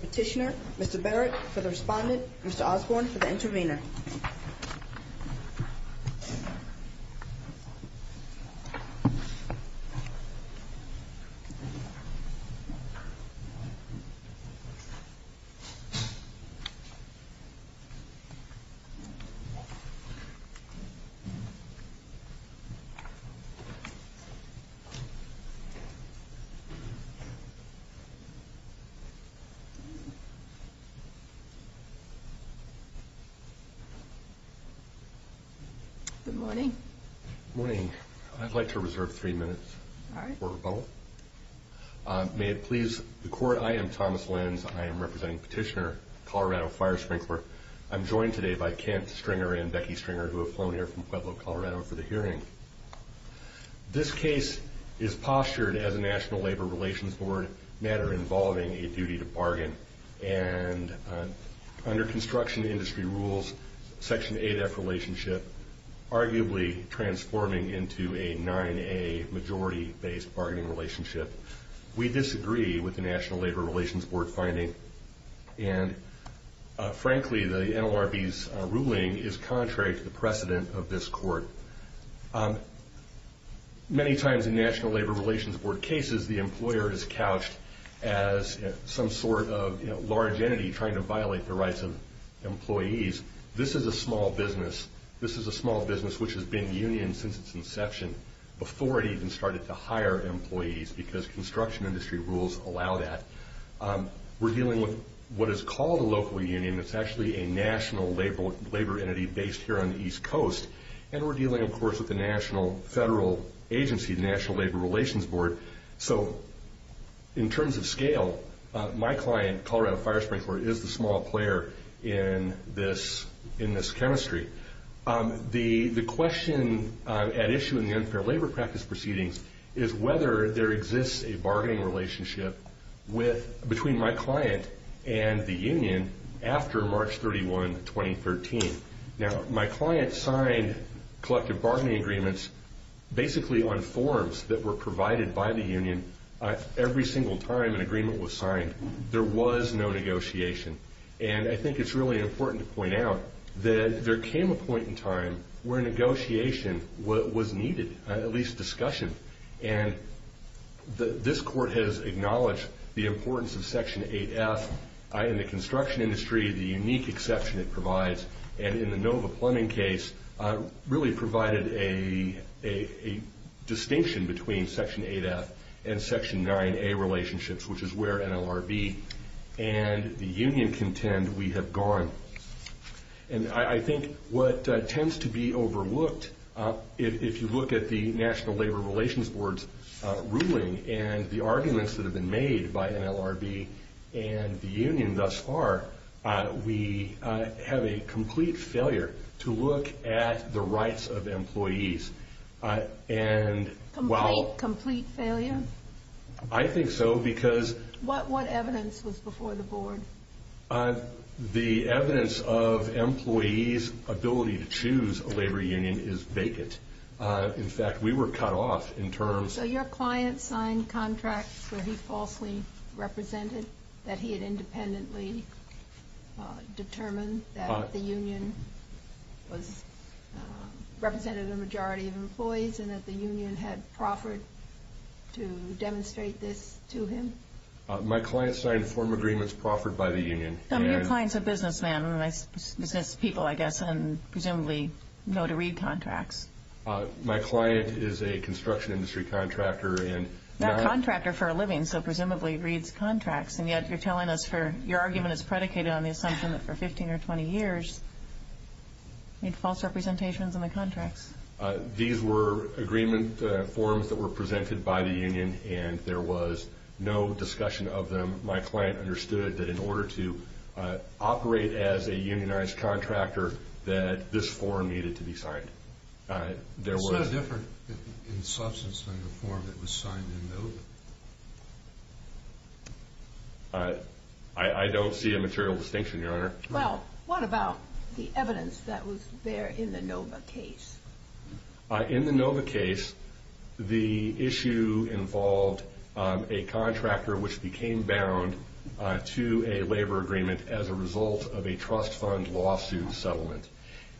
Petitioner, Mr. Barrett for the Respondent, Mr. Osborne for the Intervenor. Good morning, I'd like to reserve three minutes for a vote. May it please the Court, I am Thomas Lennons. I am representing Petitioner, Colorado Fire Sprinkler. I'm joined today by Kent Stringer and Becky Stringer who have flown here from Pueblo, Colorado for the hearing. This case is postured as a national labor relations matter involving a duty to bargain. And under construction industry rules, Section 8F relationship arguably transforming into a 9A majority based bargaining relationship. We disagree with the National Labor Relations Board finding. And frankly, the NLRB's ruling is contrary to the precedent of this court. Many times in National Labor Relations Board cases, the employer is couched as some sort of large entity trying to violate the rights of employees. This is a small business. This is a small business which has been union since its inception before it even started to hire employees because construction industry rules allow that. We're dealing with what is called a local union. It's actually a national labor entity based here on the East Coast. And we're dealing, of course, with the national federal agency, the National Labor Relations Board. So in terms of scale, my client, Colorado Fire Sprinkler, is the small player in this chemistry. The question at issue in the unfair labor practice proceedings is whether there exists a bargaining relationship between my client and the union after March 31, 2013. Now, my client signed collective bargaining agreements basically on forms that were provided by the union every single time an agreement was signed. There was no negotiation. And I think it's really important to point out that there came a point in time where negotiation was needed, at least discussion. And this court has acknowledged the importance of Section 8F in the construction industry, the unique exception it provides. And in the Nova Plumbing case, really provided a distinction between Section 8F and Section 9A relationships, which is where NLRB and the union contend we have gone. And I think what tends to be overlooked, if you look at the National Labor Relations Board's ruling and the arguments that have been made by NLRB and the union thus far, we have a complete failure to look at the rights of employees. Complete failure? I think so because... What evidence was before the board? The evidence of employees' ability to choose a labor union is vacant. In fact, we were cut off in terms... So your client signed contracts where he falsely represented that he had independently determined that the union represented a majority of employees and that the union had proffered to demonstrate this to him? My client signed form agreements proffered by the union and... So your client is a businessman and represents people, I guess, and presumably know to read contracts. My client is a construction industry contractor and... Not a contractor for a living, so presumably reads contracts. And yet, you're telling us for your argument, it's predicated on the assumption that for 15 or 20 years, he had false representations in the contracts. These were agreement forms that were presented by the union and there was no discussion of them. My client understood that in order to operate as a unionized contractor, that this form needed to be signed. There was... It's not different in substance than the form that was signed in NOVA. I don't see a material distinction, Your Honor. Well, what about the evidence that was there in the NOVA case? In the NOVA case, the issue involved a contractor which became bound to a labor agreement as a result of a trust fund lawsuit settlement.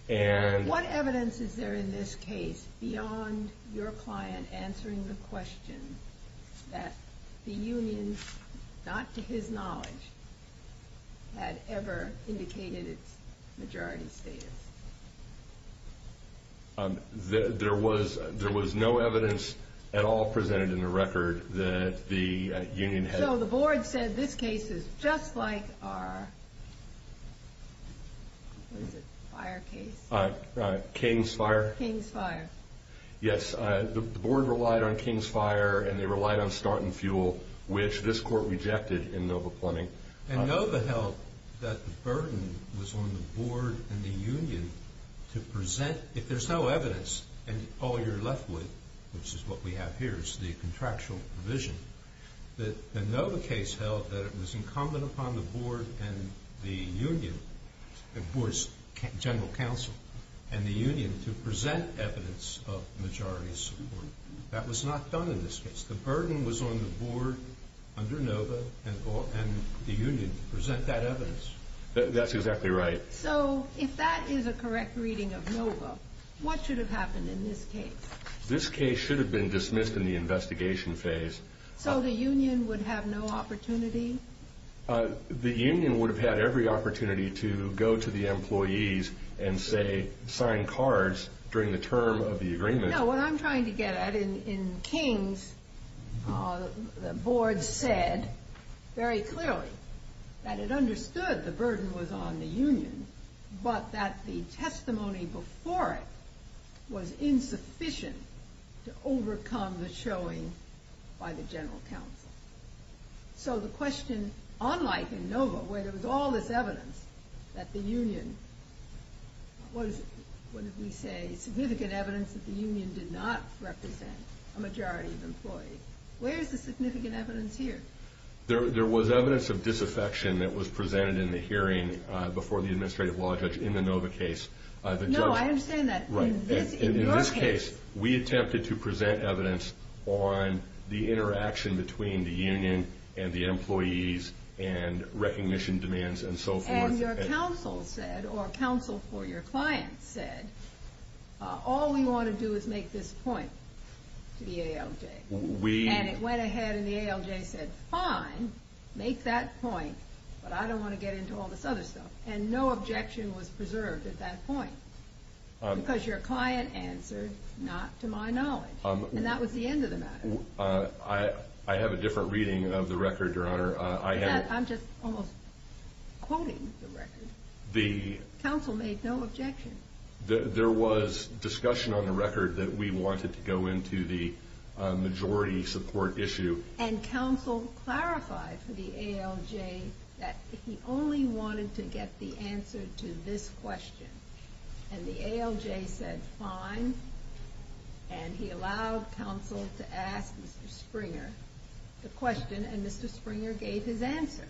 What evidence is there in this case beyond your client answering the question that the union, not to his knowledge, had ever indicated its majority status? There was no evidence at all presented in the record that the union had... So, the board said this case is just like our... King's Fire? King's Fire. Yes, the board relied on King's Fire and they relied on start and fuel, which this court rejected in NOVA Plenty. And NOVA held that the burden was on the board and the union to present... If there's no evidence and all you're left with, which is what we have here, is the contractual provision, the NOVA case held that it was incumbent upon the board and the union, the board's general counsel, and the union to present evidence of majority support. That was not done in this case. The burden was on the board under NOVA and the union to present that evidence. That's exactly right. So, if that is a correct reading of NOVA, what should have happened in this case? This case should have been dismissed in the investigation phase. So, the union would have no opportunity? The union would have had every opportunity to go to the employees and say, sign cards during the term of the agreement. No, what I'm trying to get at, in King's, the board said very clearly that it understood the burden was on the union, but that the testimony before it was insufficient to overcome the showing by the general counsel. So, the question, unlike in NOVA, where there was all this evidence that the union was, what did we say, significant evidence that the union did not represent a majority of employees. Where is the significant evidence here? There was evidence of disaffection that was presented in the hearing before the administrative law judge in the NOVA case. No, I understand that. In this case, we attempted to present evidence on the interaction between the union and the employees and recognition demands and so forth. And your counsel said, or counsel for your client said, all we want to do is make this point to the ALJ. And it went ahead and the ALJ said, fine, make that point, but I don't want to get into all this other stuff. And no objection was preserved at that point, because your client answered, not to my knowledge. And that was the end of the matter. I have a different reading of the record, Your Honor. I'm just almost quoting the record. Counsel made no objection. There was discussion on the record that we wanted to go into the majority support issue. And counsel clarified to the ALJ that he only wanted to get the answer to this question. And the ALJ said, fine. And he allowed counsel to ask Mr. Springer the question, and Mr. Springer gave his answer.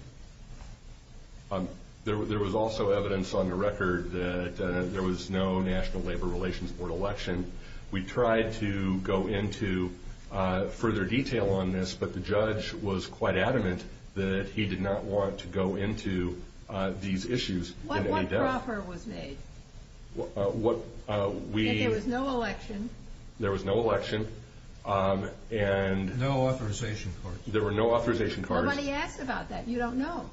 There was also evidence on the record that there was no National Labor Relations Board election. We tried to go into further detail on this, but the judge was quite adamant that he did not want to go into these issues. What offer was made? There was no election. There was no election. No authorization cards. There were no authorization cards. Nobody asked about that. You don't know.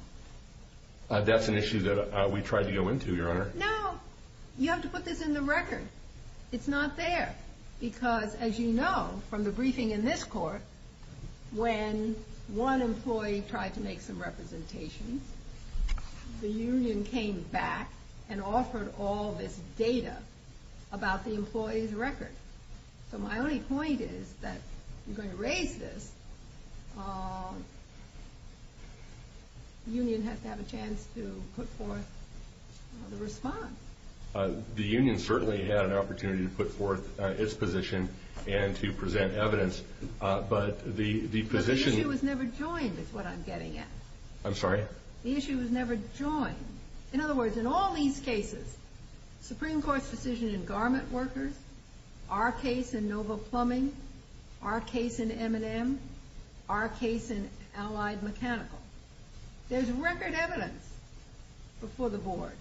That's an issue that we tried to go into, Your Honor. No. You have to put this in the record. It's not there because, as you know from the briefing in this court, when one employee tried to make some representations, the union came back and offered all this data about the employee's record. So my only point is that I'm going to raise this. The union has to have a chance to put forth a response. The union certainly had an opportunity to put forth its position and to present evidence, but the position- The issue was never joined is what I'm getting at. I'm sorry? The issue was never joined. In other words, in all these cases, Supreme Court's decision in garment workers, our case in noble plumbing, our case in M&M, our case in allied mechanical, there's record evidence before the board.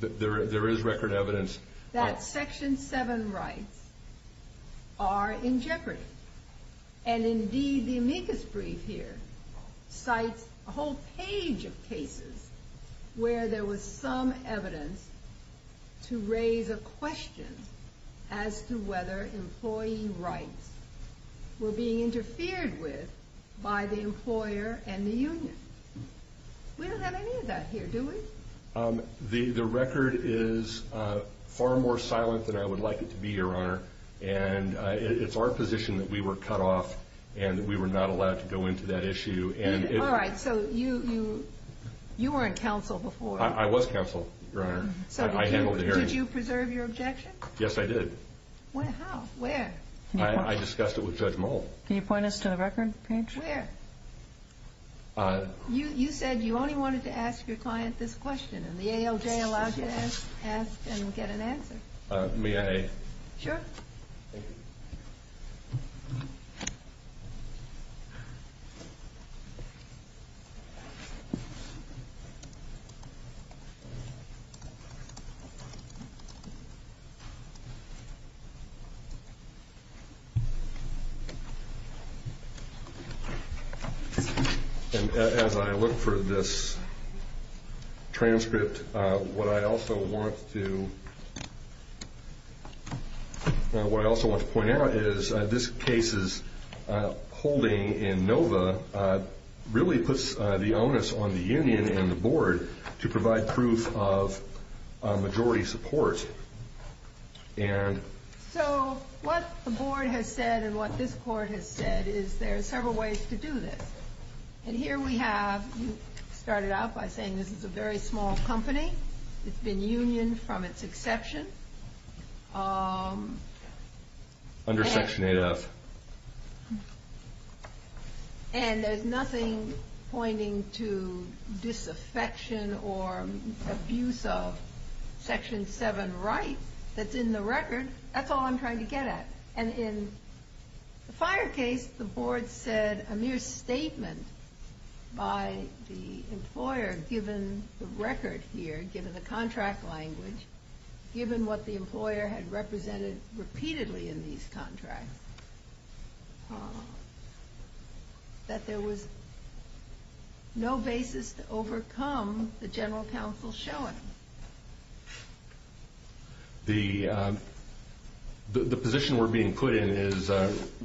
There is record evidence. That Section 7 rights are in jeopardy. And, indeed, the amicus brief here cites a whole page of cases where there was some evidence to raise a question as to whether employee rights were being interfered with by the employer and the union. We don't have any of that here, do we? The record is far more silent than I would like it to be, Your Honor. And it's our position that we were cut off and we were not allowed to go into that issue. All right. So you weren't counsel before. I was counsel, Your Honor. I handled the hearing. Did you preserve your objection? Yes, I did. How? Where? I discussed it with Judge Moll. Can you point us to the record, Paige? Where? You said you only wanted to ask your client this question, and the AOJ allowed you to ask and get an answer. May I? Sure. As I look for this transcript, what I also want to point out is this case's holding in NOVA really puts the onus on the union and the board to provide proof of majority support. So what the board has said and what this court has said is there are several ways to do this. And here we have started out by saying this is a very small company. It's been unioned from its inception. Under Section 8-F. And there's nothing pointing to disaffection or abuse of Section 7 rights that's in the record. That's all I'm trying to get at. And in the fire case, the board said a mere statement by the employer given the record here, given the contract language, given what the employer had represented repeatedly in these contracts, that there was no basis to overcome the general counsel's showing. The position we're being put in is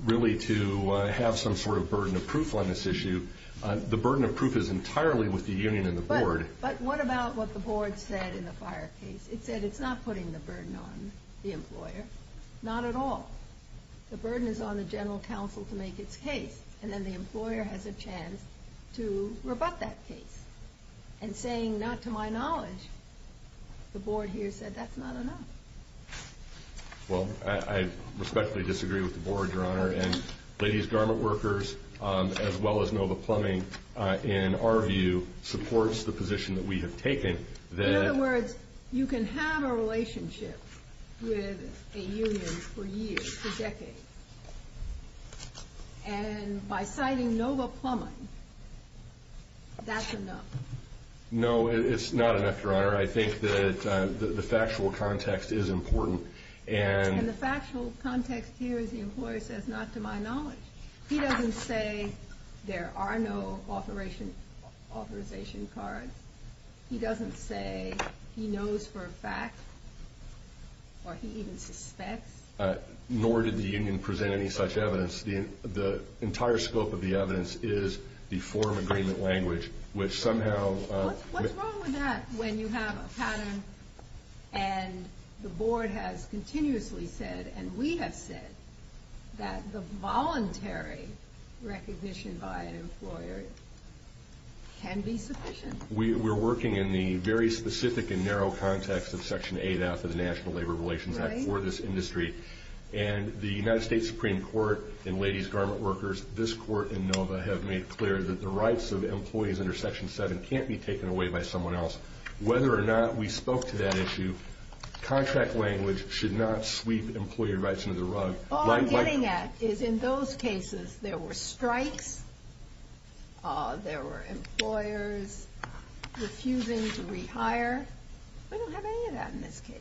really to have some sort of burden of proof on this issue. The burden of proof is entirely with the union and the board. But what about what the board said in the fire case? It said it's not putting the burden on the employer. Not at all. The burden is on the general counsel to make its case, and then the employer has a chance to rebut that case. And saying, not to my knowledge, the board here said that's not enough. And ladies' garment workers, as well as Nova Plumbing, in our view, supports the position that we have taken. In other words, you can have a relationship with a union for years, for decades. And by citing Nova Plumbing, that's enough. No, it's not enough, Your Honor. I think that the factual context is important. In the factual context here, the employer says, not to my knowledge. He doesn't say there are no authorization cards. He doesn't say he knows for a fact, or he even suspects. Nor did the union present any such evidence. The entire scope of the evidence is the form agreement language, which somehow- What's wrong with that when you have a pattern and the board has continuously said, and we have said, that the voluntary recognition by an employer can be sufficient? We're working in the very specific and narrow context of Section 8 out of the National Labor Relations Act for this industry. And the United States Supreme Court and ladies' garment workers, this court and Nova, have made clear that the rights of employees under Section 7 can't be taken away by someone else. Whether or not we spoke to that issue, contract language should not sweep employee rights under the rug. All I'm getting at is in those cases, there were strikes, there were employers refusing to retire. We don't have any of that in this case.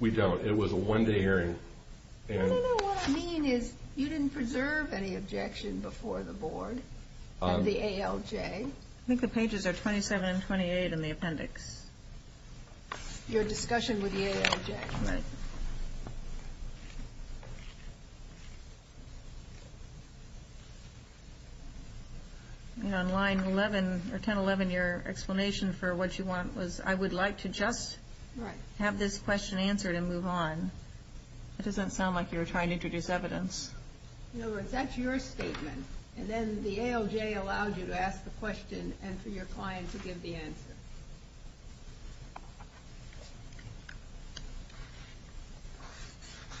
We don't. It was a one-day hearing. I don't know what I mean is you didn't preserve any objection before the board of the ALJ. I think the pages are 27 and 28 in the appendix. Your discussion with the ALJ. Right. And on line 11, or 1011, your explanation for what you want was, I would like to just have this question answered and move on. This doesn't sound like you're trying to introduce evidence. Nova, if that's your statement, and then the ALJ allows you to ask the question and for your client to give the answer.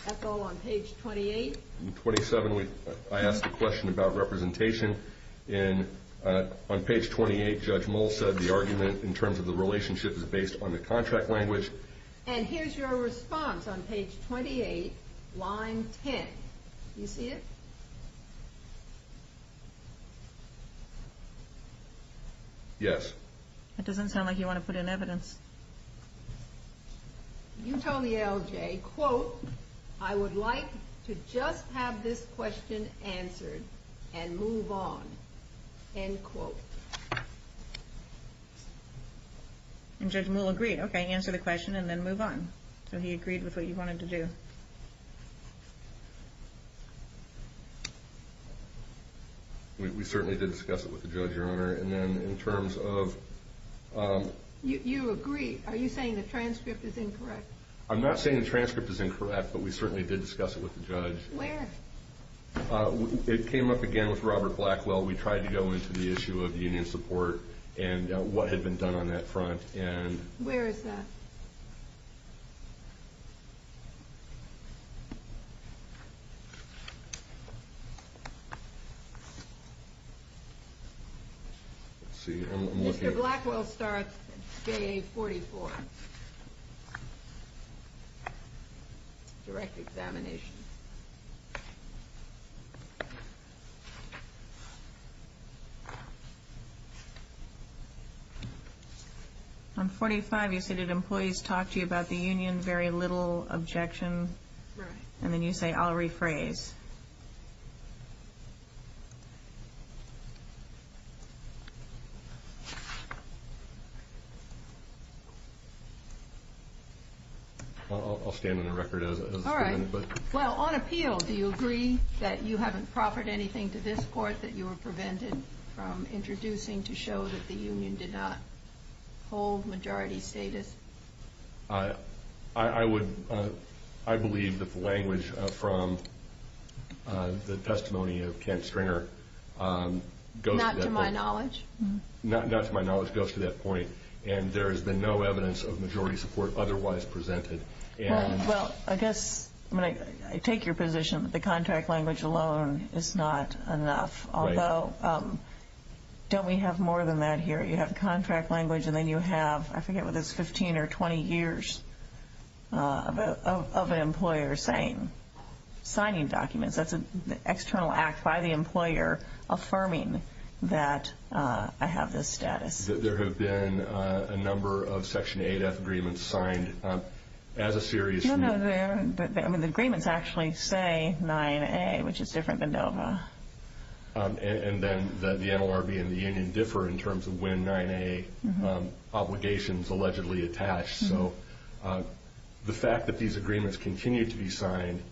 That's all on page 28. On page 27, I asked a question about representation. On page 28, Judge Moll said the argument in terms of the relationship is based on the contract language. And here's your response on page 28, line 10. Do you see it? Yes. It doesn't say. It doesn't sound like you want to put in evidence. You tell the ALJ, quote, I would like to just have this question answered and move on. End quote. And Judge Moll agreed. Okay, answer the question and then move on. So he agreed with what you wanted to do. We certainly did discuss it with the judge earlier. And then in terms of... You agree. Are you saying the transcript is incorrect? I'm not saying the transcript is incorrect, but we certainly did discuss it with the judge. Where? It came up again with Robert Blackwell. We tried to go into the issue of the union support and what had been done on that front. Where is that? Let's see. Mr. Blackwell starts day 44. Direct examination. On 45, you say, did employees talk to you about the union? Very little objection. Right. And then you say, I'll rephrase. I'll stand on the record as... All right. Well, on appeal, do you agree that you haven't proffered anything to this court, that you were prevented from introducing to show that the union did not hold majority status? I would... I believe that the language from the testimony of Kent Stringer... Not to my knowledge. Not to my knowledge goes to that point. And there has been no evidence of majority support otherwise presented. Well, I guess I take your position that the contract language alone is not enough. Although, don't we have more than that here? You have contract language and then you have, I forget whether it's 15 or 20 years, of an employer signing documents. That's an external act by the employer affirming that I have this status. There have been a number of Section 8F agreements signed as a series... No, no. The agreements actually say 9A, which is different than NOVA. And then the NLRB and the union differ in terms of when 9A obligation is allegedly attached. So the fact that these agreements continue to be signed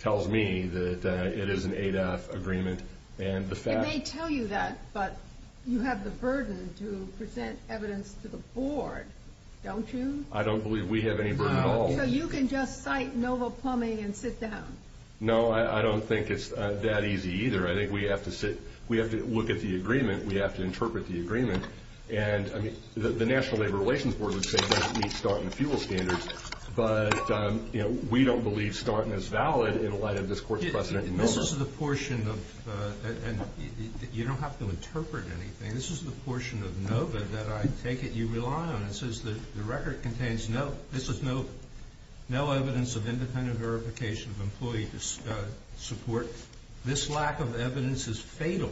tells me that it is an 8F agreement. And the fact... It may tell you that, but you have the burden to present evidence to the board, don't you? I don't believe we have any burden at all. So you can just cite NOVA plumbing and sit down? No, I don't think it's that easy either. I think we have to sit... We have to look at the agreement, we have to interpret the agreement. The National Labor Relations Board would say that meets Staunton fuel standards, but we don't believe Staunton is valid in light of this Court's precedent. This is the portion of... You don't have to interpret anything. This is the portion of NOVA that I take it you rely on. It says that the record contains no evidence of independent verification of employee support. This lack of evidence is fatal.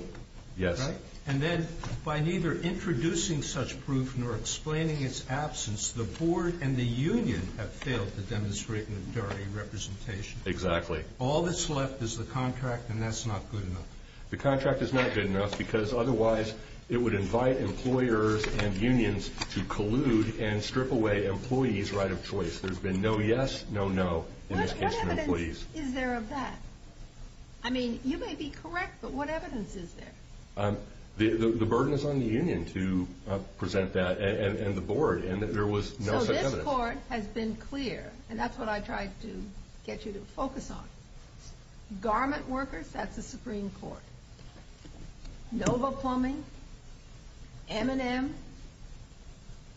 Yes. And then by neither introducing such proof nor explaining its absence, the board and the union have failed to demonstrate an authority representation. Exactly. All that's left is the contract, and that's not good enough. The contract is not good enough because otherwise it would invite employers and unions to collude and strip away employees' right of choice. There's been no yes, no no in this case for employees. What evidence is there of that? I mean, you may be correct, but what evidence is there? The burden is on the union to present that and the board, and there was no such evidence. So this Court has been clear, and that's what I tried to get you to focus on. Garment workers, that's the Supreme Court. NOVA plumbing, M&M,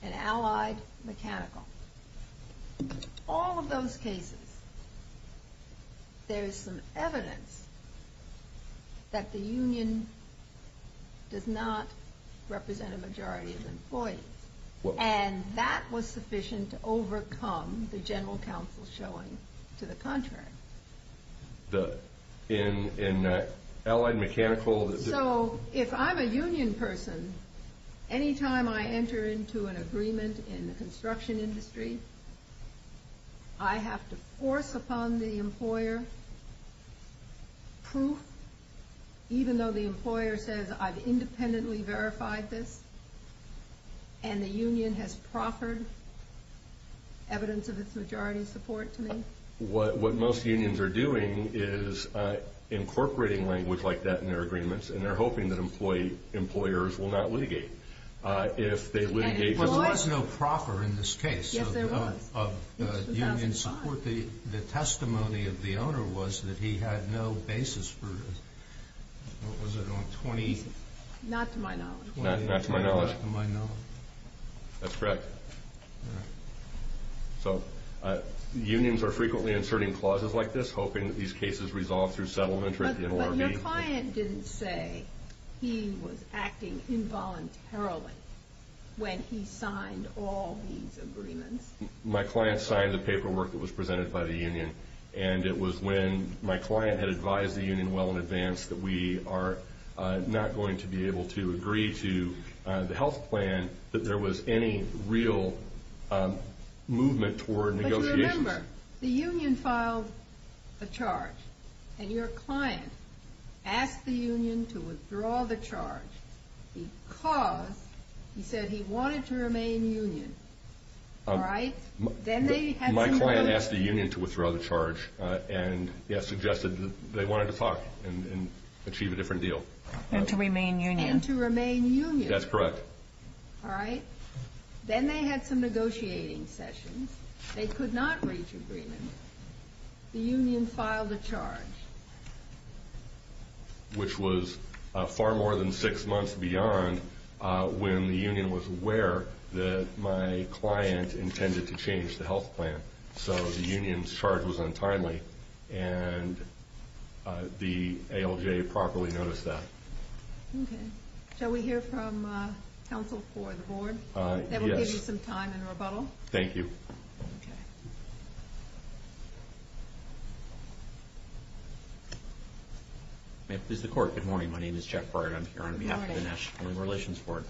and allied mechanical. All of those cases, there's some evidence that the union does not represent a majority of employees, and that was sufficient to overcome the general counsel showing to the contract. In allied mechanical? So if I'm a union person, any time I enter into an agreement in the construction industry, I have to force upon the employer proof, even though the employer says I've independently verified this and the union has proffered evidence of its majority support to me? What most unions are doing is incorporating language like that in their agreements, and they're hoping that employers will not litigate. If they litigate... But there's no proffer in this case of union support. The testimony of the owner was that he had no basis for, what was it, on 20... Not to my knowledge. Not to my knowledge. Not to my knowledge. That's correct. So unions are frequently inserting clauses like this, hoping that these cases resolve through settlement... But the client didn't say he was acting involuntarily when he signed all these agreements. My client signed the paperwork that was presented by the union, and it was when my client had advised the union well in advance that we are not going to be able to agree to the health plan, that there was any real movement toward negotiation. But you remember, the union filed a charge, and your client asked the union to withdraw the charge because he said he wanted to remain union. All right? My client asked the union to withdraw the charge and suggested they wanted to talk and achieve a different deal. And to remain union. And to remain union. That's correct. All right. Then they had some negotiating sessions. They could not reach agreement. The union filed a charge. Which was far more than six months beyond when the union was aware that my client intended to change the health plan. So the union's charge was untimely, and the ALJ properly noticed that. Okay. Shall we hear from counsel for the board? Yes. That will give you some time in rebuttal. Thank you. Okay. This is the court. Good morning. My name is Jeff Breyer. I'm here on behalf of the National Human Relations Court.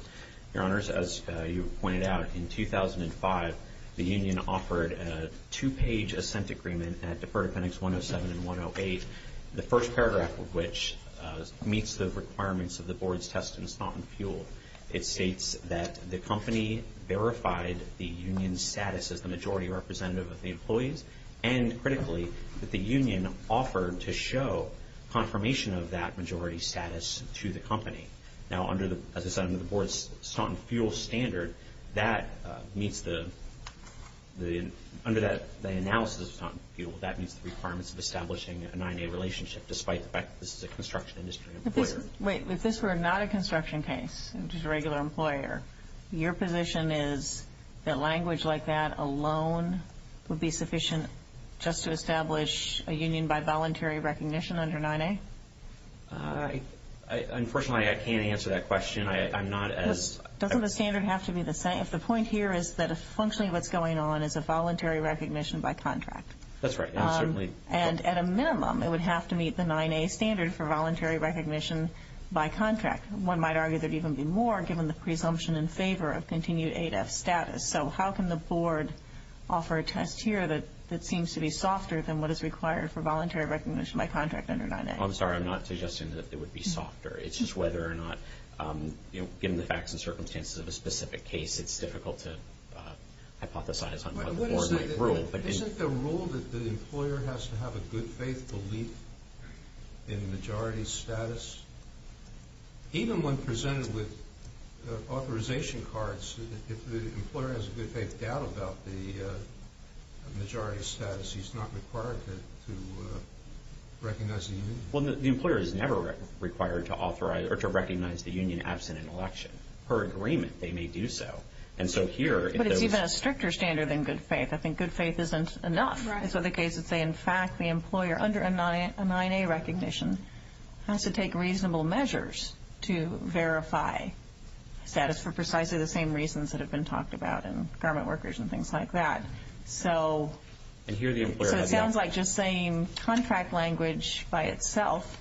Your Honors, as you pointed out, in 2005, the union offered a two-page assent agreement at deferred appendix 107 and 108, the first paragraph of which meets the requirements of the board's test in Stoughton Fuel. It states that the company verified the union's status as the majority representative of the employees, and critically, that the union offered to show confirmation of that majority status to the company. Now, under the board's Stoughton Fuel standard, that meets the – under the analysis of Stoughton Fuel, that meets the requirements of establishing a 9A relationship, despite the fact that this is a construction industry employer. Wait. If this were not a construction case, just a regular employer, your position is that language like that alone would be sufficient just to establish a union by voluntary recognition under 9A? Unfortunately, I can't answer that question. I'm not as – Doesn't the standard have to be the same? The point here is that essentially what's going on is a voluntary recognition by contract. That's right. And at a minimum, it would have to meet the 9A standard for voluntary recognition by contract. One might argue that even more, given the presumption in favor of continued ADAS status. So how can the board offer a test here that seems to be softer than what is required for voluntary recognition by contract under 9A? I'm sorry. I'm not suggesting that it would be softer. It's just whether or not, you know, given the facts and circumstances of a specific case, it's difficult to hypothesize. Isn't it the rule that the employer has to have a good faith belief in majority status? Even when presented with authorization cards, if the employer has a good faith doubt about the majority status, he's not required to recognize the union. Well, the employer is never required to recognize the union absent an election. Per agreement, they may do so. And so here – But it's even a stricter standard than good faith. I think good faith isn't enough. Right. In fact, the employer, under a 9A recognition, has to take reasonable measures to verify status for precisely the same reasons that have been talked about in garment workers and things like that. So it sounds like just saying contract language by itself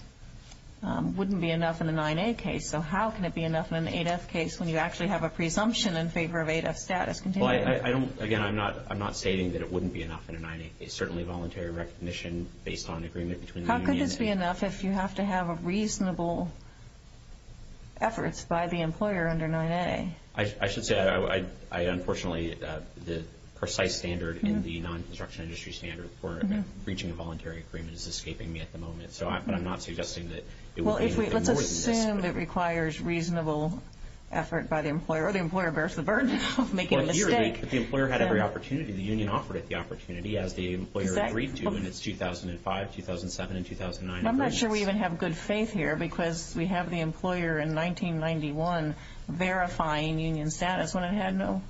wouldn't be enough in a 9A case. So how can it be enough in an 8F case when you actually have a presumption in favor of 8F status? Again, I'm not saying that it wouldn't be enough in a 9A case. Certainly, voluntary recognition based on agreement between the union and – How could this be enough if you have to have a reasonable effort by the employer under 9A? I should say, unfortunately, the precise standard in the non-construction industry standard for reaching a voluntary agreement is escaping me at the moment. So I'm not suggesting that it would be more than this. Well, let's assume it requires reasonable effort by the employer, or the employer bears the burden of making a mistake. Well, here, if the employer had every opportunity, the union offered it the opportunity as the employer agreed to in 2005, 2007, and 2009. I'm not sure we even have good faith here because we have the employer in 1991 verifying union status when it had no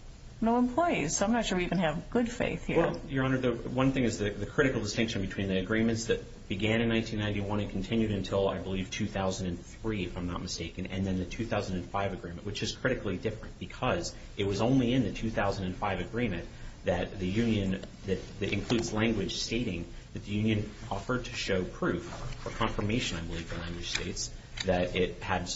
employees. So I'm not sure we even have good faith here. Your Honor, one thing is the critical distinction between the agreements that began in 1991 and continued until, I believe, 2003, if I'm not mistaken, and then the 2005 agreement, which is critically different because it was only in the 2005 agreement that the union – that includes language stating that the union offered to show proof or confirmation, I believe the language states, that it had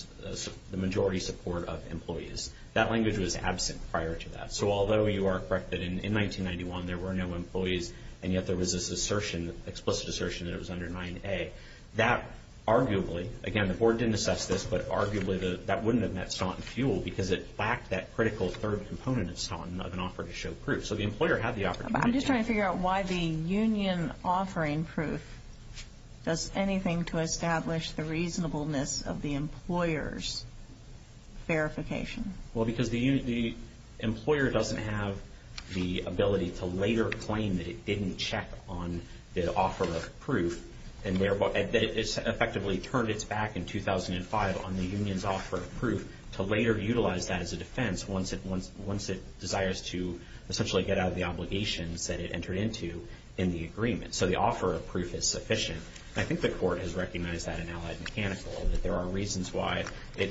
the majority support of employees. That language was absent prior to that. So although you are correct that in 1991 there were no employees and yet there was this assertion, explicit assertion, that it was under 9A, that arguably – again, the board didn't assess this, but arguably that wouldn't have met Stanton's view because it lacked that critical third component of an offer to show proof. So the employer had the opportunity. I'm just trying to figure out why the union offering proof does anything to establish the reasonableness of the employer's verification. Well, because the employer doesn't have the ability to later claim that it didn't check on the offer of proof and it effectively turned its back in 2005 on the union's offer of proof to later utilize that as a defense once it desires to essentially get out of the obligations that it entered into in the agreement. So the offer of proof is sufficient. And I think the court has recommended that in Allied Mechanical that there are reasons why the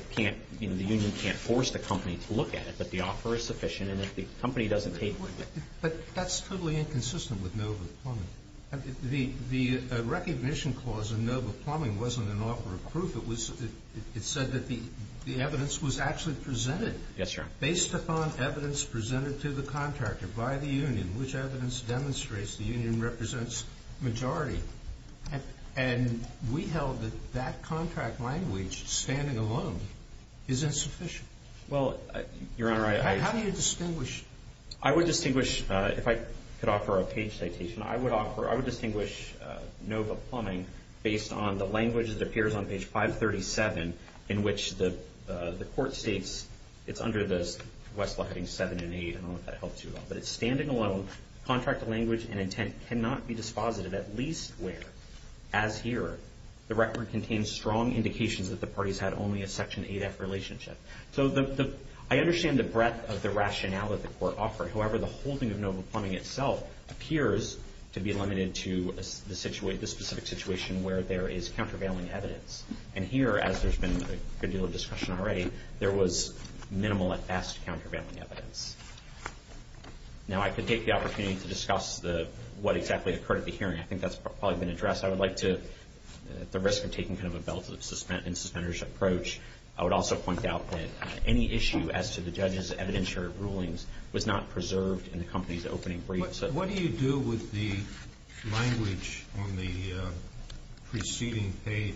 union can't force the company to look at it, that the offer is sufficient and that the company doesn't take one bit. But that's totally inconsistent with Nova Plumbing. The recognition clause in Nova Plumbing wasn't an offer of proof. It said that the evidence was actually presented. Yes, sir. Based upon evidence presented to the contractor by the union, which evidence demonstrates the union represents majority, and we held that that contract language standing alone is insufficient. Well, you're right. How do you distinguish? I would distinguish, if I could offer a page citation, I would distinguish Nova Plumbing based on the language that appears on page 537 in which the court states it's under the request for having 7 and 8. I don't know if that helps you at all. But it's standing alone, contract language and intent cannot be dispositive, at least where, as here, the record contains strong indications that the parties had only a Section 8F relationship. So I understand the breadth of the rationale that the court offered. However, the holding of Nova Plumbing itself appears to be limited to the specific situation where there is countervailing evidence. And here, as there's been a good deal of discussion already, there was minimal and vast countervailing evidence. Now, I could take the opportunity to discuss what exactly occurred at the hearing. I think that's probably been addressed. I would like to, at the risk of taking kind of a belt and suspenders approach, I would also point out that any issue as to the judge's evidentiary rulings was not preserved in the company's opening brief. What do you do with the language on the preceding page?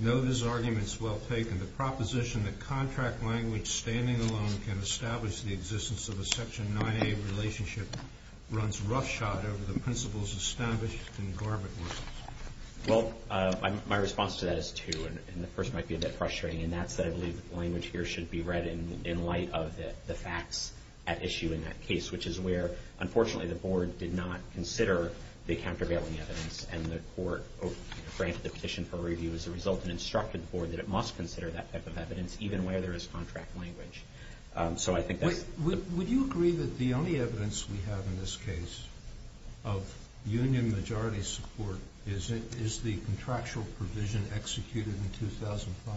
No, this argument is well taken. The proposition that contract language standing alone can establish the existence of a Section 9A relationship runs roughshod over the principles established in Garber's rules. Well, my response to that is two, and the first might be a bit frustrating in that, but I believe that the language here should be read in light of the facts at issue in that case, which is where, unfortunately, the Board did not consider the countervailing evidence and the Court granted the petition for review as a result and instructed the Board that it must consider that type of evidence even where there is contract language. So I think that… Would you agree that the only evidence we have in this case of union majority support is the contractual provision executed in 2005?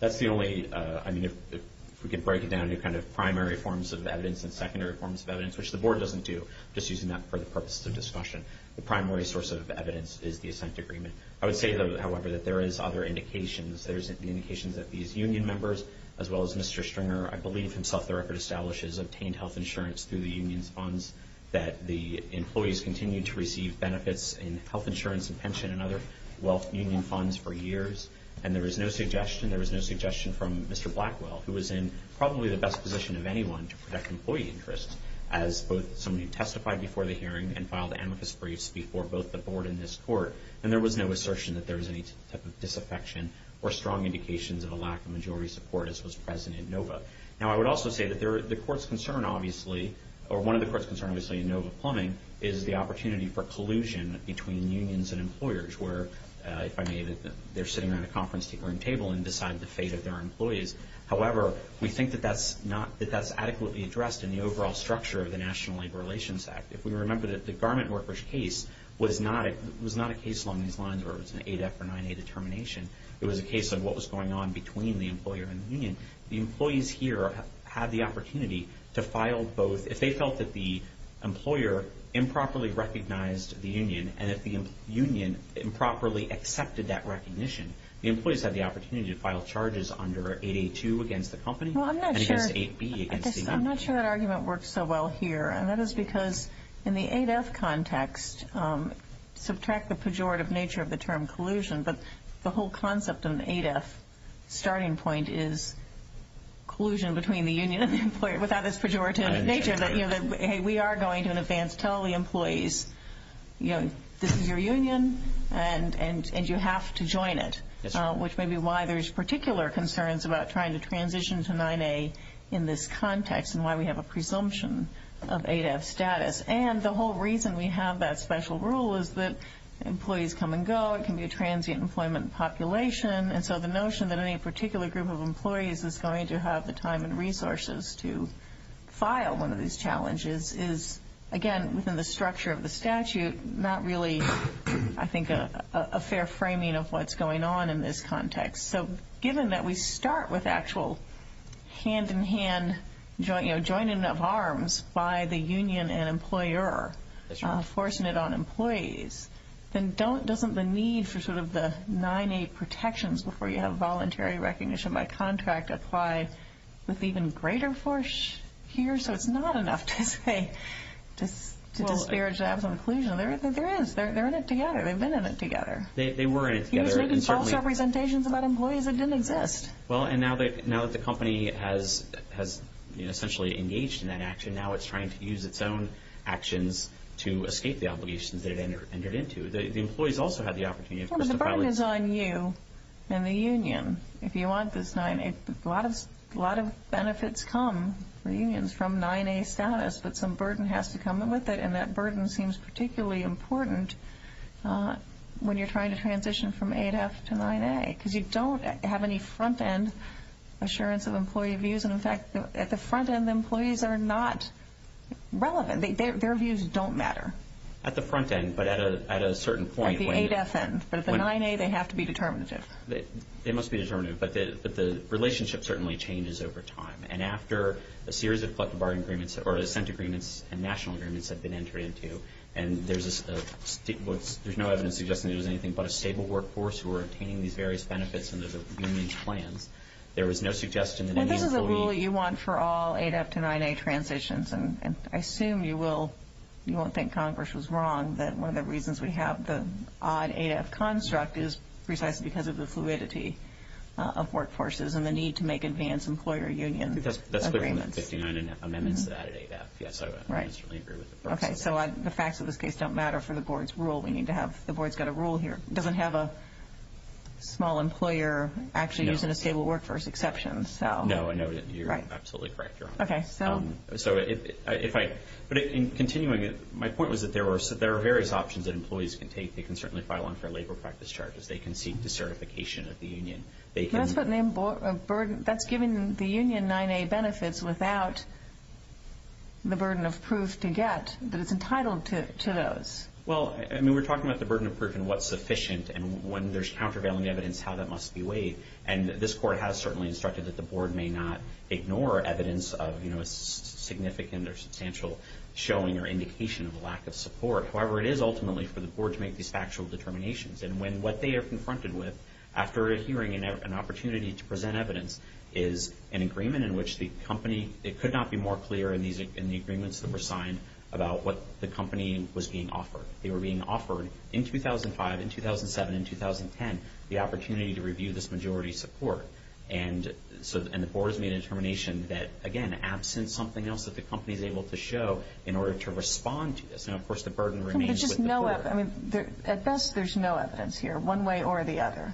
That's the only… I mean, if we could break it down into kind of primary forms of evidence and secondary forms of evidence, which the Board doesn't do, just using that for the purposes of discussion. The primary source of evidence is the assent agreement. I would say, however, that there is other indications. There's indications that these union members, as well as Mr. Stringer, I believe himself the record establishes, obtained health insurance through the union's funds, that the employees continued to receive benefits in health insurance and pension and other wealth union funds for years. And there was no suggestion. There was no suggestion from Mr. Blackwell, who was in probably the best position of anyone to protect employee interests, as both somebody who testified before the hearing and filed amicus briefs before both the Board and this Court, and there was no assertion that there was any type of disaffection or strong indications of a lack of majority support as was present in NOVA. Now, I would also say that the Court's concern, obviously, or one of the Court's concerns, obviously, in NOVA Plumbing, is the opportunity for collusion between unions and employers, where, if I may, they're sitting at a conference table and decide the fate of their employees. However, we think that that's adequately addressed in the overall structure of the National Labor Relations Act. If we remember that the garment workers case was not a case along these lines where it was an 8F or 9A determination. It was a case on what was going on between the employer and the union. The employees here had the opportunity to file both... If they felt that the employer improperly recognized the union and if the union improperly accepted that recognition, the employees had the opportunity to file charges under 882 against the company. I'm not sure that argument works so well here, and that is because in the 8F context, subtract the pejorative nature of the term collusion, but the whole concept in the 8F starting point is collusion between the union and the employer without its pejorative nature. We are going to, in advance, tell the employees, this is your union and you have to join it, which may be why there's particular concerns about trying to transition to 9A in this context and why we have a presumption of 8F status. And the whole reason we have that special rule is that employees come and go, it can be a transient employment population, and so the notion that any particular group of employees is going to have the time and resources to file one of these challenges is, again, within the structure of the statute, not really, I think, a fair framing of what's going on in this context. So given that we start with actual hand-in-hand, joining of arms by the union and employer, forcing it on employees, then doesn't the need for sort of the 9A protections before you have voluntary recognition by contract apply with even greater force here? So it's not enough to say that there are jobs on collusion. There is. They're in it together. They've been in it together. They were in it together. You've written false representations about employees that didn't exist. Well, and now that the company has essentially engaged in that action, and now it's trying to use its own actions to escape the obligations that it entered into, the employees also have the opportunity. Well, the burden is on you and the union if you want this 9A. A lot of benefits come to unions from 9A status, but some burden has to come with it, and that burden seems particularly important when you're trying to transition from 8F to 9A because you don't have any front-end assurance of employee views, and, in fact, at the front end, employees are not relevant. Their views don't matter. At the front end, but at a certain point. At the 8F end. But at the 9A, they have to be determinative. They must be determinative, but the relationship certainly changes over time, and after a series of collective bargaining agreements or assent agreements and national agreements have been entered into, and there's no evidence suggesting there's anything but a stable workforce who are attaining these various benefits under the union's plan, there is no suggestion that the employees... This is a rule you want for all 8F to 9A transitions, and I assume you won't think Congress was wrong that one of the reasons we have the odd 8F construct is precisely because of the fluidity of workforces and the need to make advanced employer union agreements. That's clear from the 59.5 amendments that added 8F. Yes, I agree with that. Okay, so the facts of this case don't matter for the board's rule. We need to have the board's got a rule here. It doesn't have a small employer actually using a stable workforce exception, so... No, I know you're absolutely correct. Okay, so... But in continuing, my point was that there are various options that employees can take. They can certainly file unfair labor practice charges. They can seek the certification of the union. That's giving the union 9A benefits without the burden of proof to get that it's entitled to those. Well, I mean, we're talking about the burden of proof and what's sufficient, and when there's countervailing evidence, how that must be weighed. And this court has certainly instructed that the board may not ignore evidence of significant or substantial showing or indication of a lack of support. However, it is ultimately for the board to make these factual determinations, and when what they are confronted with, after hearing an opportunity to present evidence, is an agreement in which the company... It could not be more clear in the agreements that were signed about what the company was being offered. They were being offered, in 2005, in 2007, in 2010, the opportunity to review this majority support. And the board has made a determination that, again, absent something else that the company is able to show in order to respond to this. And, of course, the burden remains with the board. At best, there's no evidence here, one way or the other,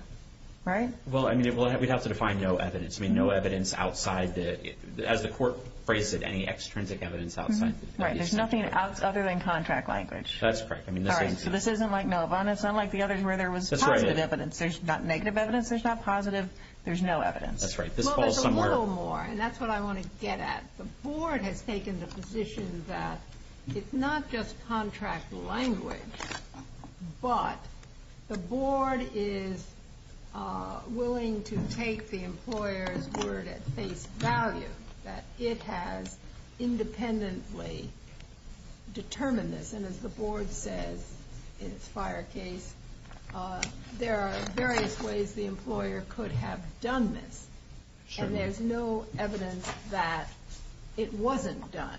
right? Well, I mean, we'd have to define no evidence. I mean, no evidence outside the... As the court phrased it, any extrinsic evidence outside... Right, there's nothing other than contract language. That's right. All right, so this isn't like Milibon. It's not like the others where there was positive evidence. There's not negative evidence. There's not positive. There's no evidence. That's right. Well, there's a little more, and that's what I want to get at. The board has taken the position that it's not just contract language, but the board is willing to take the employer's word at face value that it has independently determined this. And as the board says in its fire case, there are various ways the employer could have done this, and there's no evidence that it wasn't done.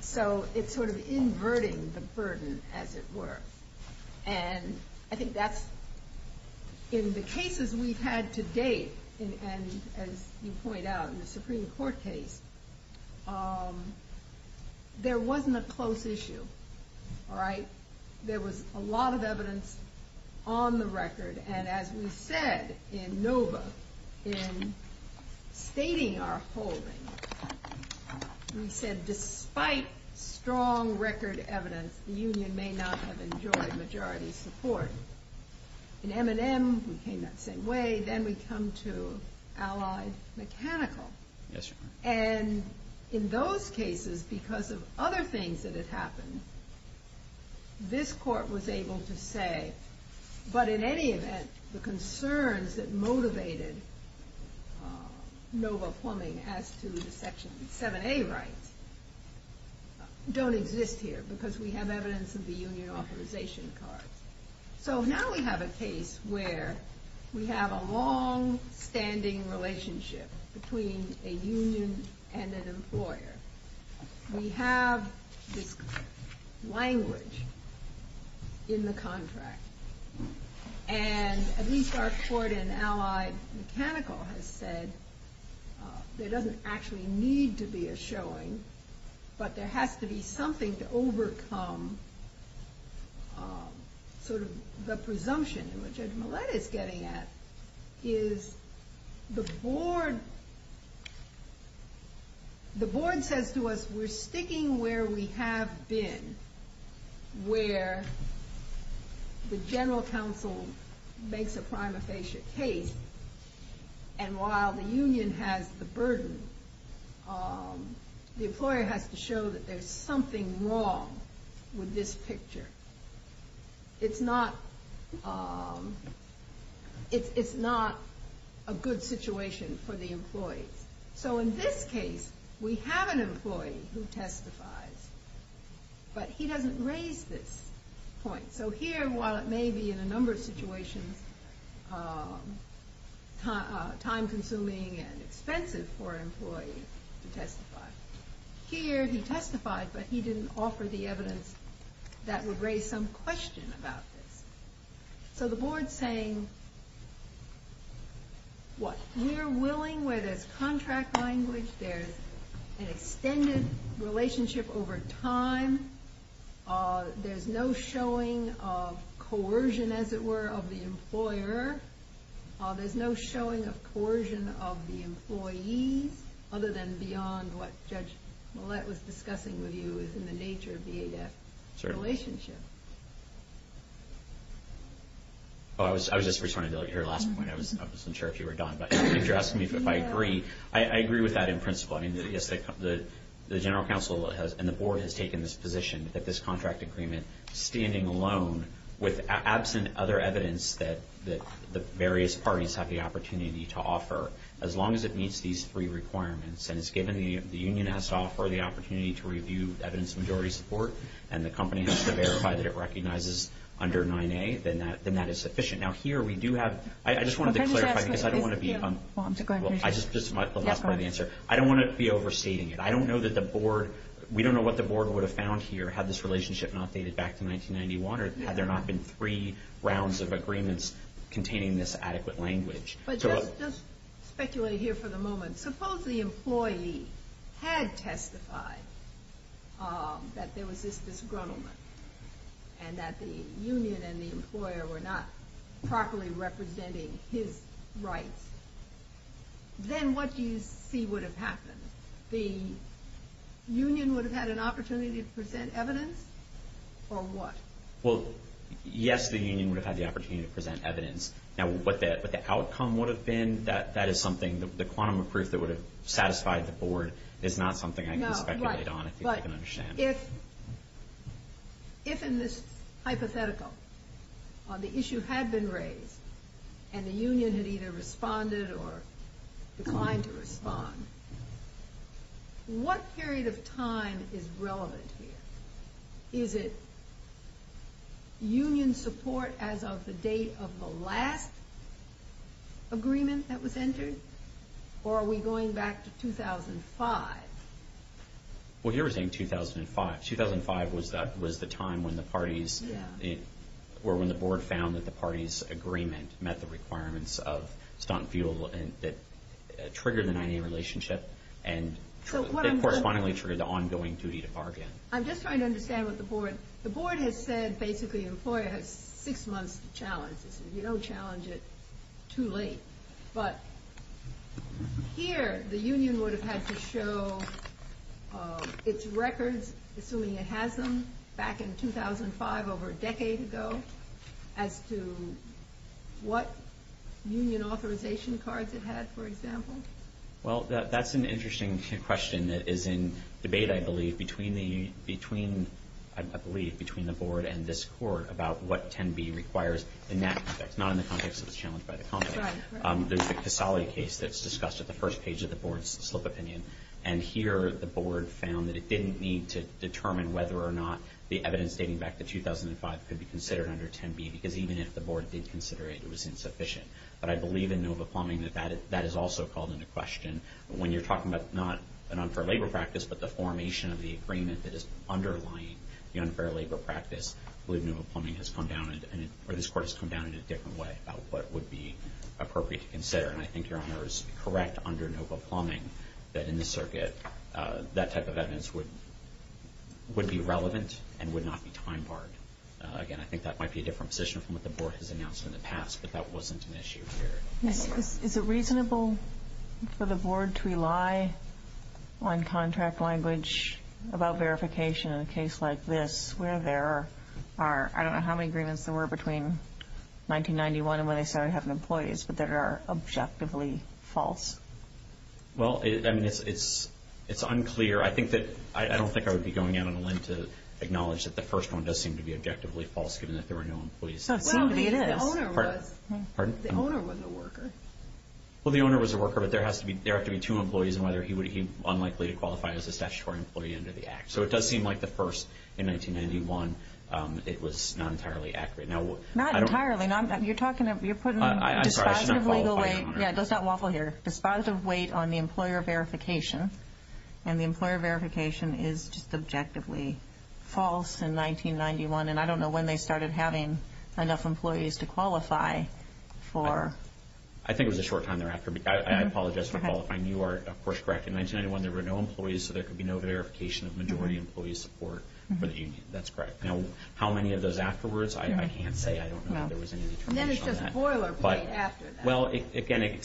So it's sort of inverting the burden, as it were. And I think that's, in the cases we've had to date, and as you point out in the Supreme Court case, there wasn't a close issue. All right? There was a lot of evidence on the record, and as we said in NOVA in stating our holdings, we said despite strong record evidence, the union may not have enjoyed majority support. In M&M, we came that same way. Then we come to Allies Mechanical. And in those cases, because of other things that have happened, this court was able to say, but in any event, the concerns that motivated NOVA plumbing as to the Section 7A rights don't exist here because we have evidence of the union authorization card. So now we have a case where we have a long-standing relationship between a union and an employer. We have language in the contract, and at least our court in Allies Mechanical has said there doesn't actually need to be a showing, but there has to be something to overcome sort of the presumption, which Judge Millett is getting at, is the board says to us we're sticking where we have been, where the general counsel makes a prima facie case, and while the union has the burden, the employer has to show that there's something wrong with this picture. It's not a good situation for the employee. So in this case, we have an employee who testifies, but he doesn't raise this point. So here, while it may be in a number of situations time-consuming and expensive for an employee to testify, here he testifies, but he didn't offer the evidence that would raise some question about this. So the board's saying, what? We're willing where there's contract language, there's an extended relationship over time, there's no showing of coercion, as it were, of the employer, there's no showing of coercion of the employee, other than beyond what Judge Millett was discussing with you is in the nature of the ADAPT relationship. I was just referring to your last point. I wasn't sure if you were done, but I think you're asking me if I agree. I agree with that in principle. The general counsel and the board has taken this position that this contract agreement, standing alone, with absent other evidence that the various parties have the opportunity to offer, as long as it meets these three requirements and is given the union has to offer the opportunity to review evidence of majority support and the company has to verify that it recognizes under 9A, then that is sufficient. I don't want to be overstating it. I don't know that the board, we don't know what the board would have found here had this relationship not dated back to 1991 or had there not been three rounds of agreements containing this adequate language. But just speculating here for the moment, suppose the employee had testified that there was this disgruntlement and that the union and the employer were not properly representing his rights, then what you see would have happened. The union would have had an opportunity to present evidence or what? Well, yes, the union would have had the opportunity to present evidence. Now, what the outcome would have been, that is something, the quantum of proof that would have satisfied the board is not something I can speculate on but if in this hypothetical, the issue had been raised and the union had either responded or declined to respond, what period of time is relevant here? Is it union support as of the date of the last agreement that was entered or are we going back to 2005? Well, you're saying 2005. 2005 was the time when the parties, or when the board found that the parties' agreement met the requirements of stunt and futile that triggered an IA relationship and correspondingly triggered the ongoing duty to bargain. I'm just trying to understand what the board, the board had said basically the employer had six months to challenge and if you don't challenge it, it's too late. But here, the union would have had to show its records, assuming it has them, back in 2005 over a decade ago as to what union authorization cards it had, for example. Well, that's an interesting question that is in debate, I believe, between the board and this court about what 10B requires in that context, not in the context of the challenge by the company. There's a Casali case that's discussed at the first page of the board's slip opinion and here the board found that it didn't need to determine whether or not the evidence dating back to 2005 could be considered under 10B because even if the board did consider it, it was insufficient. But I believe in Nova Plumbing that that is also called into question when you're talking about not an unfair labor practice but the formation of the agreement that is underlying the unfair labor practice with Nova Plumbing has come down and this court has come down in a different way about what would be appropriate to consider and I think Your Honor is correct under Nova Plumbing that in this circuit that type of evidence would be relevant and would not be time-barred. Again, I think that might be a different position from what the board has announced in the past but that wasn't an issue here. Is it reasonable for the board to rely on contract language about verification in a case like this where there are, I don't know how many agreements there were between 1991 and when they started having employees but that are objectively false? Well, it's unclear. I don't think I would be going out on a limb to acknowledge that the first one does seem to be objectively false given that there were no employees. Well, the owner was a worker. Well, the owner was a worker but there have to be two employees and whether he would be unlikely to qualify as a statutory employee under the Act. So it does seem like the first in 1991 it was not entirely accurate. Not entirely. You're talking about... I'm sorry. I shouldn't have qualified. Yeah, just that waffle here. Responsive weight on the employer verification and the employer verification is just objectively false in 1991 and I don't know when they started having enough employees to qualify for... I think it was a short time thereafter. I apologize for qualifying. You are, of course, correct. In 1991 there were no employees so there could be no verification of majority employee support for the union. That's correct. Now, how many of those afterwards? I can't say. I don't know if there was any determination on that. Then it's a spoiler point after that. Well, again,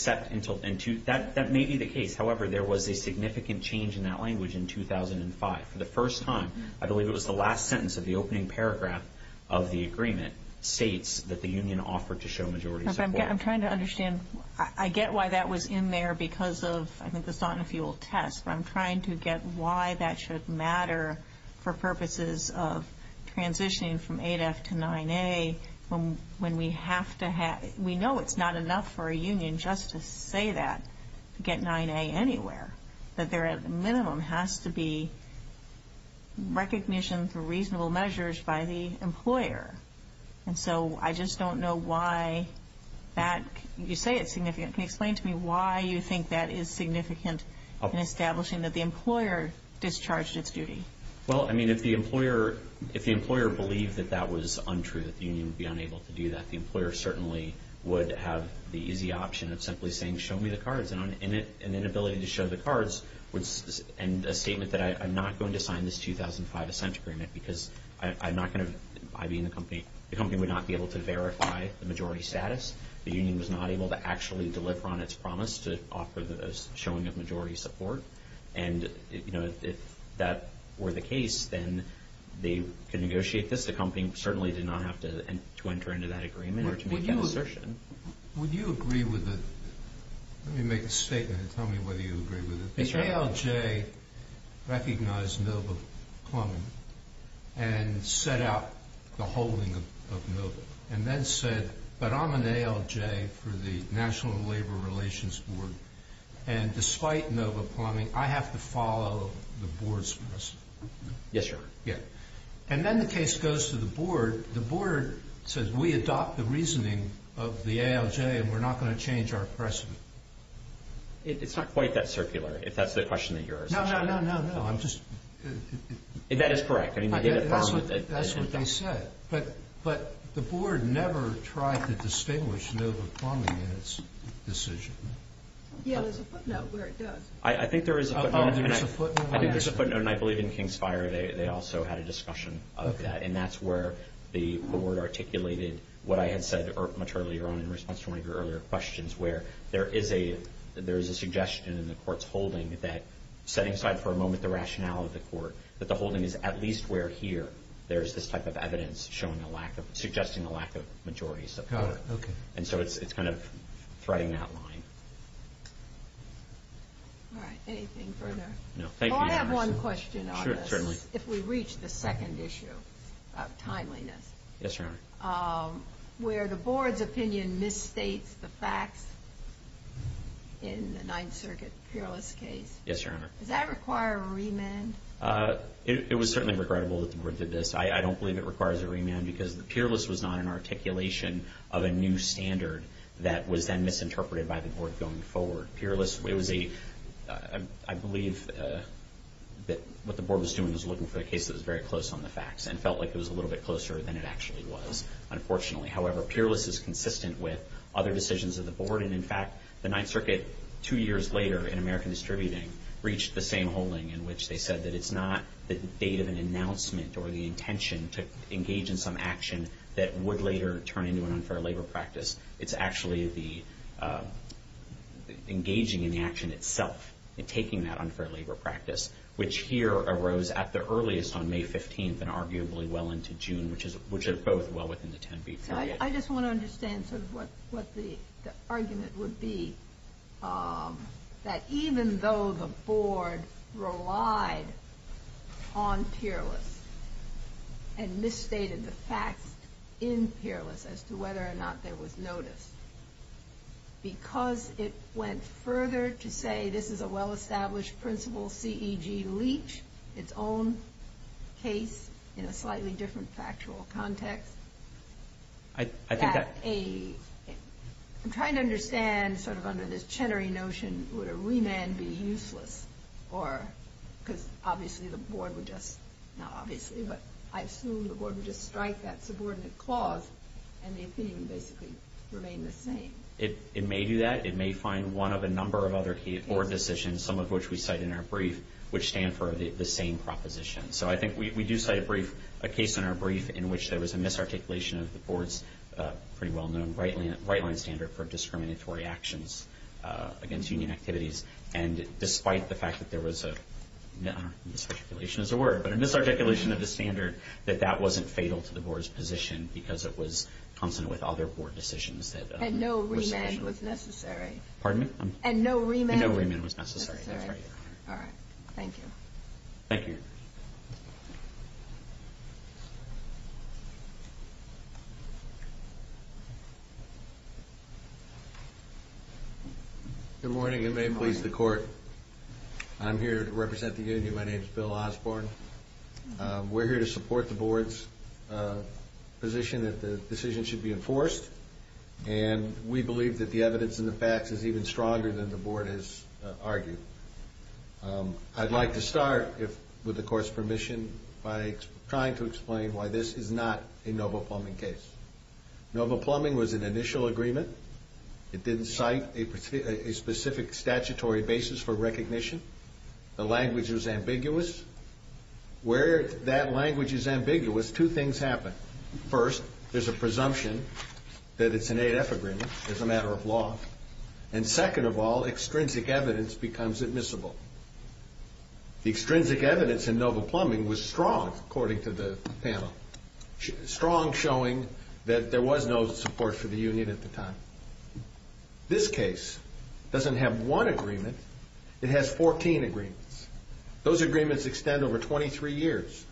that may be the case. However, there was a significant change in that language in 2005. For the first time, I believe it was the last sentence of the opening paragraph of the agreement states that the union offered to show majority support. I'm trying to understand. I get why that was in there because of, I think, the sauna fuel test but I'm trying to get why that should matter for purposes of transitioning from 8F to 9A when we have to have... We know it's not enough for a union just to say that to get 9A anywhere. That there, at the minimum, has to be recognition for reasonable measures by the employer. And so I just don't know why that... You say it's significant. Can you explain to me why you think that is significant in establishing that the employer gets charged with duty? Well, I mean, if the employer believed that that was untrue, that the union would be unable to do that, the employer certainly would have the easy option of simply saying, show me the cards. And an inability to show the cards would end a statement that I'm not going to sign this 2005 assent agreement because I'm not going to... I being the company, the company would not be able to verify the majority status. The union was not able to actually deliver on its promise to offer the showing of majority support. And if that were the case, then they could negotiate this. The company certainly did not have to enter into that agreement or to make an assertion. Would you agree with the... Let me make a statement and tell me whether you agree with it. If ALJ recognized Millville Plumbing and set out the holding of Millville and then said, but I'm an ALJ for the National Labor Relations Board and despite Millville Plumbing, I have to follow the board's policy. Yes, sir. And then the case goes to the board. The board says, we adopt the reasoning of the ALJ and we're not going to change our precedent. It's not quite that circular, if that's the question of yours. No, no, no, no, no. I'm just... That is correct. That's what they said. But the board never tried to distinguish Millville Plumbing in its decision. Yeah, there's a footnote where it does. I think there is a footnote. I think there's a footnote and I believe in King's Fire, they also had a discussion of that. And that's where the board articulated what I had said much earlier in response to one of your earlier questions where there is a suggestion in the court's holding that setting aside for a moment the rationale of the court, that the holding is at least where here there's this type of evidence suggesting the lack of majorities. Oh, okay. And so it's kind of threading that line. All right, anything further? No, thank you, Your Honor. Well, I have one question on this. Sure, certainly. If we reach the second issue of timeliness. Yes, Your Honor. Where the board's opinion misstates the facts in the Ninth Circuit Peerless case. Yes, Your Honor. Does that require a remand? It was certainly regrettable that the board did this. I don't believe it requires a remand because Peerless was not an articulation of a new standard that was then misinterpreted by the board going forward. Peerless, it was a... I believe that what the board was doing was looking for a case that was very close on the facts and felt like it was a little bit closer than it actually was, unfortunately. However, Peerless is consistent with other decisions of the board. And in fact, the Ninth Circuit, two years later in American Distributing, reached the same holding in which they said that it's not the date of an announcement or the intention to engage in some action that would later turn into an unfair labor practice. It's actually engaging in the action itself and taking that unfair labor practice, which here arose at the earliest on May 15th and arguably well into June, which are both well within the 10-week period. I just want to understand what the argument would be that even though the board relied on Peerless and misstated the fact in Peerless as to whether or not there was notice, because it went further to say this is a well-established principle, CEG leached its own case in a slightly different factual context... I'm trying to understand, sort of under this cheddary notion, would a remand be useless? Because obviously the board would just... Not obviously, but I assume the board would just strike that subordinate clause and the opinion would basically remain the same. It may do that. It may find one of a number of other board decisions, some of which we cite in our brief, which stand for the same proposition. So I think we do cite a brief, a case in our brief, in which there was a misarticulation of the board's pretty well-known right-wing standard for discriminatory actions against union activities, and despite the fact that there was a... I don't know if misarticulation is a word, but a misarticulation of the standard that that wasn't fatal to the board's position because it was consonant with other board decisions... And no remand was necessary. Pardon me? And no remand was necessary. All right, thank you. Thank you. Thank you. Good morning, and may it please the court. I'm here to represent the union. My name is Bill Osborne. We're here to support the board's position that the decision should be enforced, and we believe that the evidence and the facts is even stronger than the board has argued. I'd like to start, with the court's permission, by trying to explain why this is not a Nova Plumbing case. Nova Plumbing was an initial agreement. It didn't cite a specific statutory basis for recognition. The language was ambiguous. Where that language is ambiguous, two things happen. First, there's a presumption that it's an AF agreement, as a matter of law. And second of all, extrinsic evidence becomes admissible. The extrinsic evidence in Nova Plumbing was strong, according to the panel. Strong, showing that there was no support for the union at the time. This case doesn't have one agreement. It has 14 agreements. Those agreements extend over 23 years.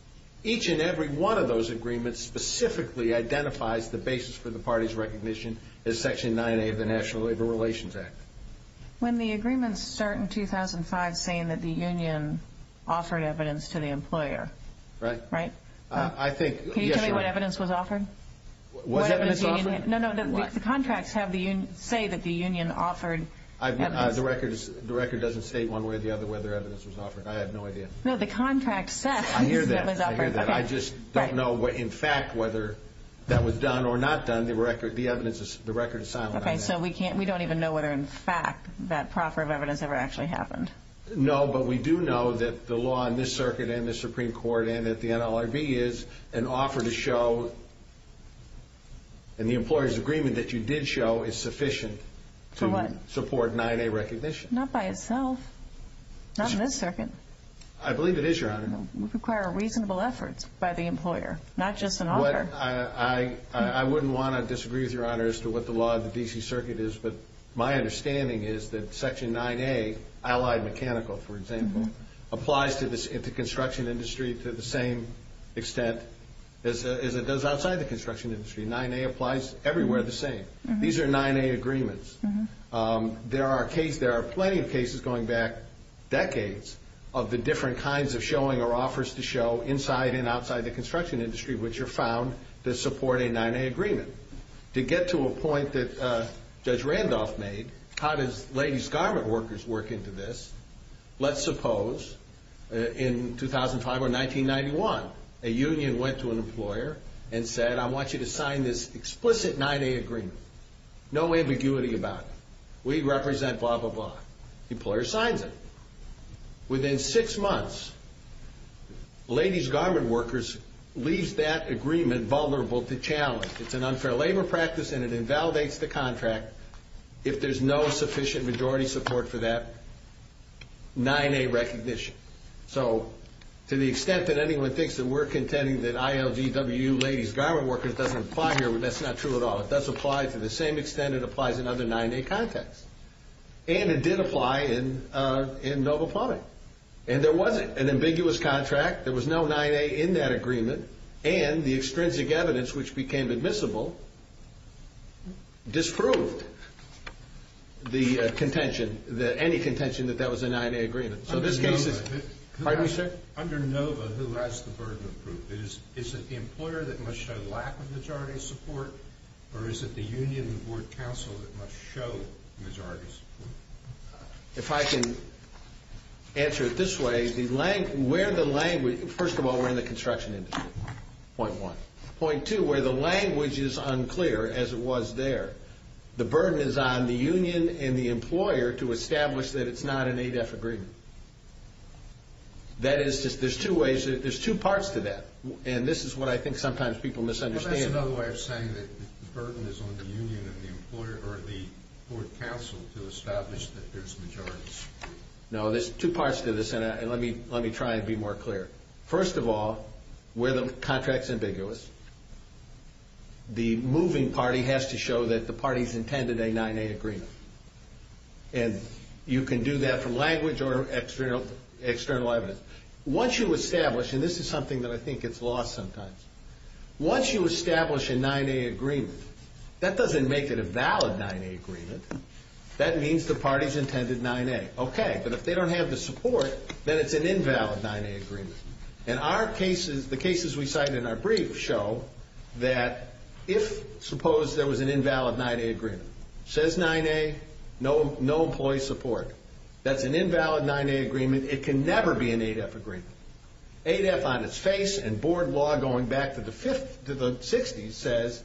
Each and every one of those agreements specifically identifies the basis for the party's recognition as Section 9A of the National Labor Relations Act. When the agreements start in 2005, that's saying that the union offered evidence to the employer. Right. Right? Can you tell me what evidence was offered? What evidence was offered? No, no. The contracts say that the union offered evidence. The record doesn't state one way or the other whether evidence was offered. I have no idea. No, the contract says that evidence was offered. I hear that. I just don't know, in fact, whether that was done or not done. The record is silent on that. Okay, so we don't even know whether, in fact, that proffer of evidence ever actually happened. No, but we do know that the law in this circuit and the Supreme Court and that the NLRB is an offer to show, and the employer's agreement that you did show is sufficient to support 9A recognition. Not by itself. Not in this circuit. I believe it is, Your Honor. It would require reasonable efforts by the employer, not just an offer. I wouldn't want to disagree with Your Honor as to what the law in the D.C. Circuit is, but my understanding is that Section 9A, Allied Mechanical, for example, applies to the construction industry to the same extent as it does outside the construction industry. 9A applies everywhere the same. These are 9A agreements. There are plenty of cases going back decades of the different kinds of showing or offers to show inside and outside the construction industry, which are found to support a 9A agreement. To get to a point that Judge Randolph made, how does ladies' garment workers work into this? Let's suppose in 2005 or 1991, a union went to an employer and said, I want you to sign this explicit 9A agreement. No ambiguity about it. We represent blah, blah, blah. The employer signed it. Within six months, ladies' garment workers leaves that agreement vulnerable to challenge. It's an unfair labor practice, and it invalidates the contract if there's no sufficient majority support for that 9A recognition. So to the extent that anyone thinks that we're contending that ILVW ladies' garment workers doesn't apply here, that's not true at all. If that's applied to the same extent, it applies in other 9A contexts. And it did apply in Noble Plotter. And there was an ambiguous contract. There was no 9A in that agreement, and the extrinsic evidence, which became admissible, disproved the contention, any contention that that was a 9A agreement. So this came to... Pardon me, sir? Under NOVA, who has the burden of proof? Is it the employer that must show lack of majority support, or is it the union board council that must show majority support? If I can answer it this way, first of all, we're in the construction industry, point one. Point two, where the language is unclear, as it was there, the burden is on the union and the employer to establish that it's not an ADEF agreement. That is, there's two ways, there's two parts to that, and this is what I think sometimes people misunderstand. But that's another way of saying that the burden is on the union and the employer or the board council to establish that there's majority support. No, there's two parts to this, and let me try and be more clear. First of all, where the contract's ambiguous, the moving party has to show that the party's intended a 9A agreement. And you can do that from language or external evidence. Once you establish, and this is something that I think is lost sometimes, once you establish a 9A agreement, that doesn't make it a valid 9A agreement. That means the party's intended 9A. Okay, but if they don't have the support, then it's an invalid 9A agreement. And our cases, the cases we cite in our brief show that if, suppose there was an invalid 9A agreement, says 9A, no employee support. That's an invalid 9A agreement, it can never be an ADEF agreement. ADEF on its face and board law going back to the 60s says,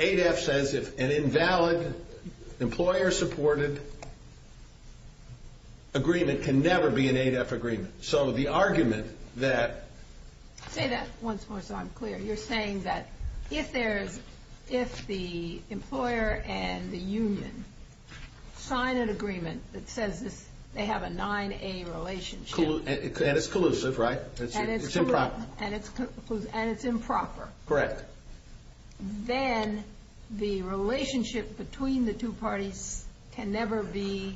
ADEF says if an invalid employer-supported agreement can never be an ADEF agreement. So the argument that... Say that once more so I'm clear. You're saying that if the employer and the union sign an agreement that says they have a 9A relationship... And it's collusive, right? And it's improper. Correct. Then the relationship between the two parties can never be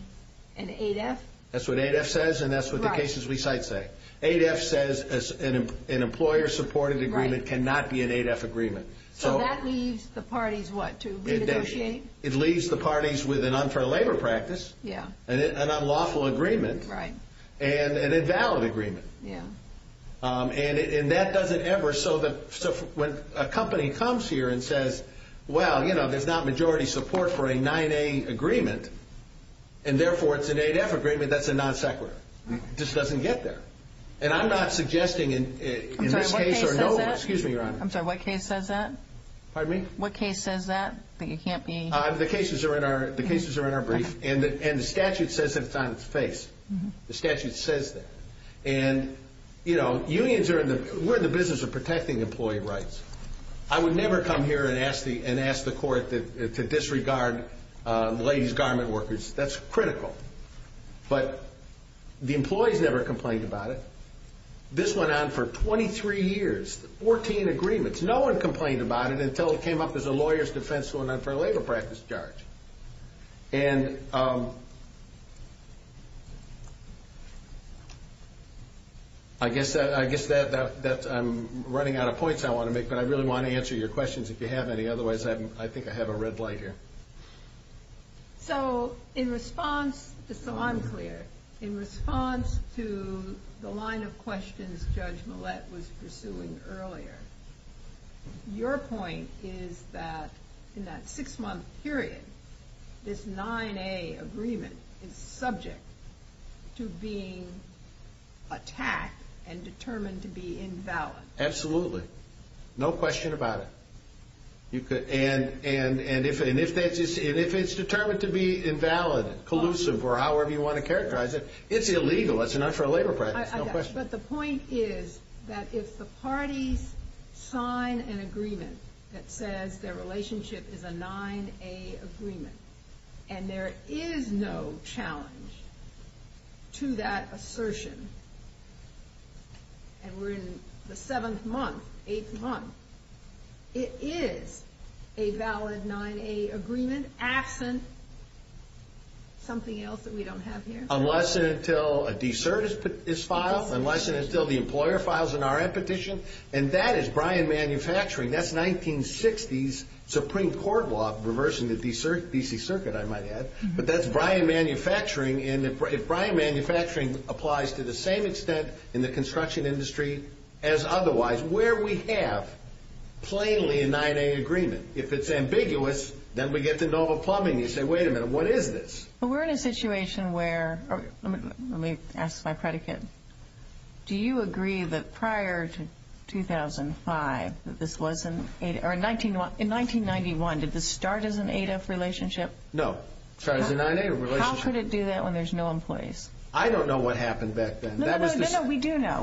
an ADEF? That's what ADEF says and that's what the cases we cite say. ADEF says an employer-supported agreement cannot be an ADEF agreement. So that leaves the parties, what, to be negotiated? It leaves the parties with an unfair labor practice, an unlawful agreement, and an invalid agreement. And that doesn't ever... So when a company comes here and says, well, you know, there's not majority support for a 9A agreement, and therefore it's an ADEF agreement, that's a non-sequitur. This doesn't get there. And I'm not suggesting in this case... I'm sorry, what case says that? Excuse me, Your Honor. I'm sorry, what case says that? Pardon me? What case says that? I think it can't be... The cases are in our brief and the statute says that it's on its face. The statute says that. And, you know, unions are in the... We're in the business of protecting employee rights. I would never come here and ask the court to disregard ladies' garment workers. That's critical. But the employees never complained about it. This went on for 23 years, 14 agreements. No one complained about it until it came up as a lawyer's defense going on for a labor practice charge. And I guess that's... I'm running out of points I want to make, but I really want to answer your questions if you have any. Otherwise, I think I have a red light here. So in response to... So I'm clear. In response to the line of questions Judge Millett was pursuing earlier, your point is that in that six-month period, this 9A agreement is subject to being attacked and determined to be invalid. Absolutely. No question about it. And if it's determined to be invalid, collusive, or however you want to characterize it, it's illegal. It's not for a labor practice. But the point is that if the parties sign an agreement that says their relationship is a 9A agreement and there is no challenge to that assertion, and we're in the seventh month, eighth month, it is a valid 9A agreement, absent something else that we don't have here. Unless and until a de-cert is filed. Unless and until the employer files an RF petition. And that is Bryan Manufacturing. That's 1960s Supreme Court law reversing the D.C. Circuit, I might add. But that's Bryan Manufacturing. And if Bryan Manufacturing applies to the same extent in the construction industry as otherwise, where we have plainly a 9A agreement. If it's ambiguous, then we get to NOVA plumbing. You say, wait a minute, what is this? Well, we're in a situation where, let me ask by predicate, do you agree that prior to 2005 that this wasn't, or in 1991, did this start as an 8F relationship? No, it started as a 9A relationship. How could it do that when there's no employees? I don't know what happened back then. No, no, no, we do know.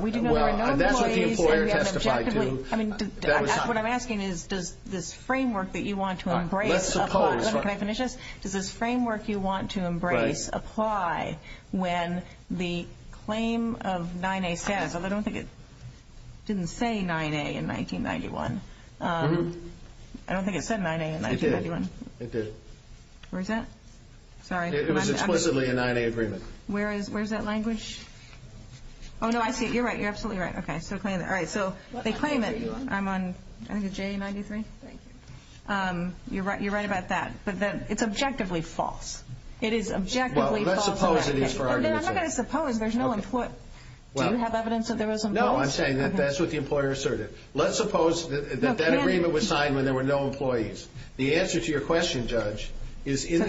That's what the employer testified to. What I'm asking is does this framework that you want to embrace apply? Let's suppose. Can I finish this? Does this framework you want to embrace apply when the claim of 9A says, although I don't think it didn't say 9A in 1991. I don't think it said 9A in 1991. It did. It did. Where's that? It was explicitly a 9A agreement. Where's that language? Oh, no, I see it. You're right. You're absolutely right. Okay. So they claim it. I'm on J93. You're right about that. It's objectively false. It is objectively false. Well, let's suppose it is for our benefit. I'm not going to suppose. Do you have evidence that there was a vote? No, I'm saying that that's what the employer asserted. Let's suppose that that agreement was signed when there were no employees. The answer to your question, Judge, is in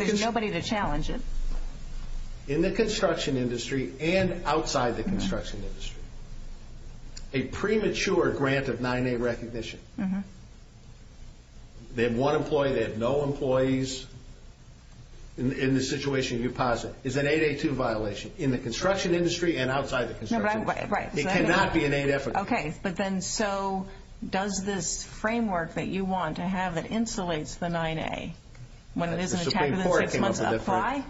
the construction industry and outside the construction industry, a premature grant of 9A recognition. They have one employee. They have no employees. In this situation, you're positive. It's an 8A2 violation in the construction industry and outside the construction industry. It cannot be an 8F agreement. Okay. But then so does this framework that you want to have that insulates the 9A when it isn't attached to the principles apply?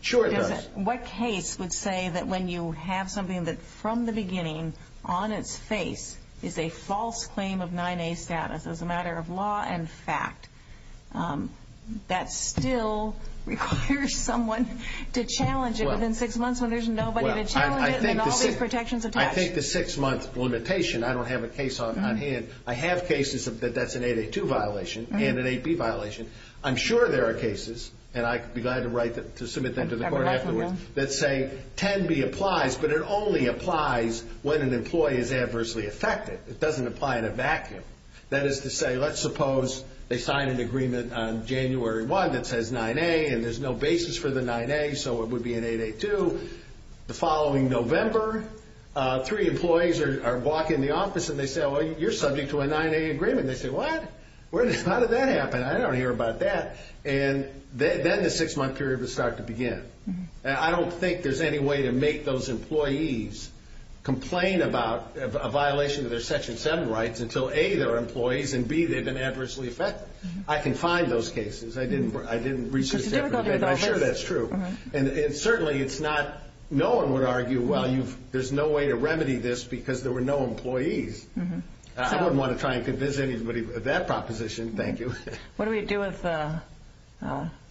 Sure it does. What case would say that when you have something that, from the beginning, on its face is a false claim of 9A status as a matter of law and fact, that still requires someone to challenge it within six months when there's nobody to challenge it and there's all these protections attached? I take the six-month limitation. I don't have a case on hand. I have cases that that's an 8A2 violation and an 8B violation. I'm sure there are cases, and I have the right to submit them to the court afterwards, that say 10B applies, but it only applies when an employee is adversely affected. It doesn't apply in a vacuum. That is to say, let's suppose they sign an agreement on January 1 that says 9A and there's no basis for the 9A, so it would be an 8A2. The following November, three employees are walking in the office and they say, well, you're subject to a 9A agreement. They say, what? How did that happen? I don't hear about that. Then the six-month period would start to begin. I don't think there's any way to make those employees complain about a violation of their Section 7 rights until, A, they're employees and, B, they've been adversely affected. I can find those cases. I didn't research that. I'm sure that's true. Certainly, no one would argue, well, there's no way to remedy this because there were no employees. I don't want to try and convince anybody with that proposition. Thank you. What do we do with the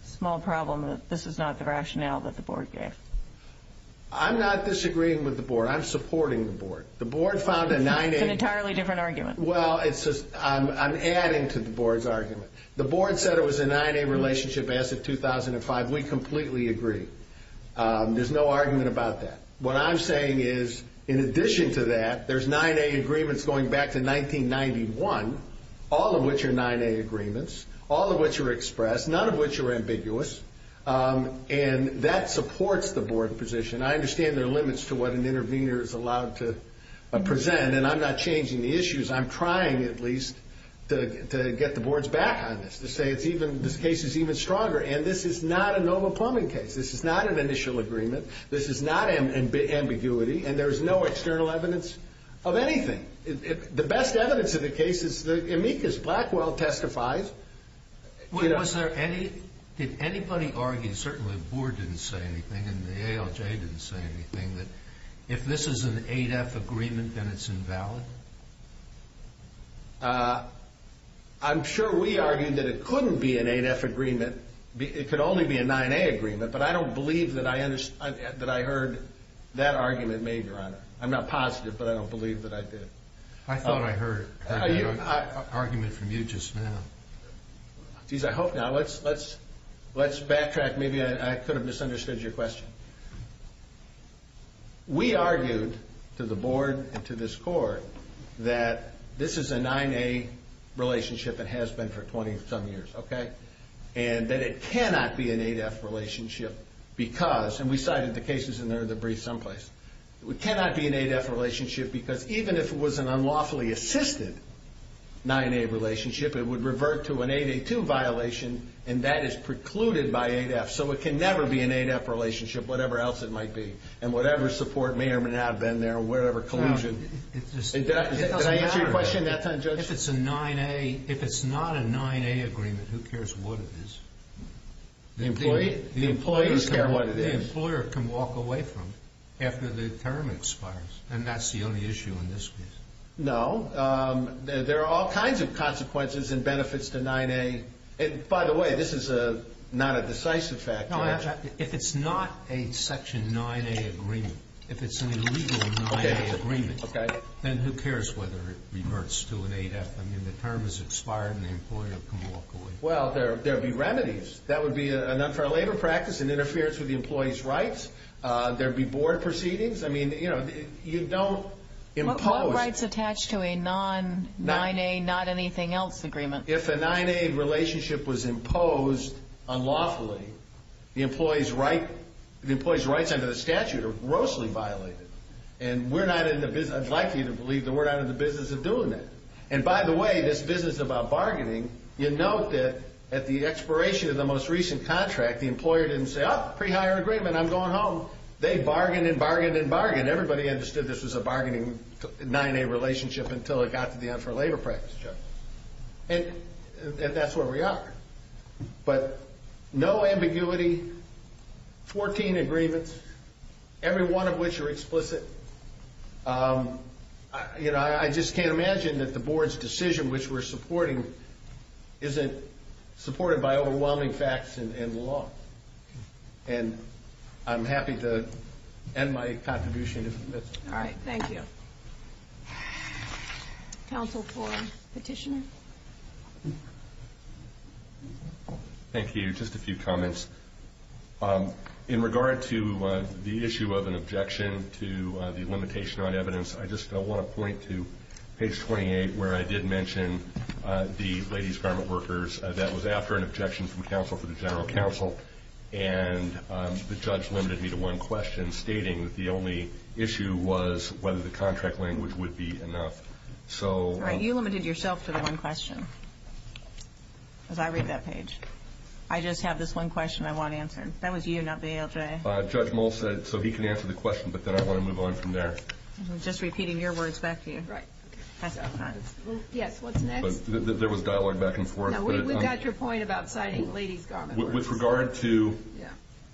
small problem that this is not the rationale that the Board gave? I'm not disagreeing with the Board. I'm supporting the Board. The Board found a 9A. It's an entirely different argument. Well, I'm adding to the Board's argument. The Board said it was a 9A relationship as of 2005. We completely agree. There's no argument about that. What I'm saying is, in addition to that, there's 9A agreements going back to 1991, all of which are 9A agreements, all of which are expressed, none of which are ambiguous, and that supports the Board position. I understand there are limits to what an intervener is allowed to present, and I'm not changing the issues. I'm trying, at least, to get the Board's back on this, to say this case is even stronger, and this is not a normal plumbing case. This is not an initial agreement. This is not ambiguity, and there's no external evidence of anything. The best evidence in the case is amicus. Blackwell testifies. Was there any – did anybody argue, certainly the Board didn't say anything and the ALJ didn't say anything, that if this is an 8F agreement, then it's invalid? I'm sure we argued that it couldn't be an 8F agreement. It could only be a 9A agreement, but I don't believe that I heard that argument made, Your Honor. I'm not positive, but I don't believe that I did. I thought I heard an argument from you just now. Geez, I hope not. Let's backtrack. Maybe I could have misunderstood your question. We argued to the Board and to this Court that this is a 9A relationship, and has been for 20-some years, okay, and that it cannot be an 8F relationship because – and we cited the cases in there that breathe some place – it cannot be an 8F relationship because even if it was an unlawfully assisted 9A relationship, it would revert to an 8A2 violation, and that is precluded by 8F. So it can never be an 8F relationship, whatever else it might be, and whatever support may or may not have been there, whatever collusion. Did I answer your question that time, Judge? If it's a 9A – if it's not a 9A agreement, who cares what it is? The employees care what it is. The employer can walk away from it after the term expires, and that's the only issue in this case. No. There are all kinds of consequences and benefits to 9A. By the way, this is not a decisive fact, Judge. If it's not a Section 9A agreement, if it's an illegal 9A agreement, then who cares whether it reverts to an 8F? I mean, the term has expired and the employer can walk away. Well, there would be remedies. That would be a non-carlator practice, an interference with the employee's rights. There would be board proceedings. I mean, you don't impose. What rights attach to a non-9A, not anything else, agreement? If a 9A relationship was imposed unlawfully, the employee's rights under the statute are grossly violated, and we're not in the business – I'd like you to believe that we're not in the business of doing that. And by the way, this business about bargaining, you note that at the expiration of the most recent contract, the employer didn't say, oh, pre-hire agreement, I'm going home. They bargained and bargained and bargained. Everybody understood this was a bargaining 9A relationship until it got to the end for labor practice, Judge. And that's where we are. You know, I just can't imagine that the board's decision, which we're supporting, isn't supported by overwhelming facts and law. And I'm happy to end my contribution. All right, thank you. Counsel for Petitioner? Thank you. Just a few comments. In regard to the issue of an objection to the limitation on evidence, I just don't want to point to page 28 where I did mention the ladies' garment workers. That was after an objection from counsel to the general counsel, and the judge limited me to one question, stating that the only issue was whether the contract language would be enough. All right, you limited yourself to that one question, because I read that page. I just have this one question I want to answer. That was you, not the ALJ. Judge Moll said it, so he can answer the question, but then I want to move on from there. I'm just repeating your words back to you. Yes, what's next? There was dialogue back and forth. We've got your point about citing ladies' garments. With regard to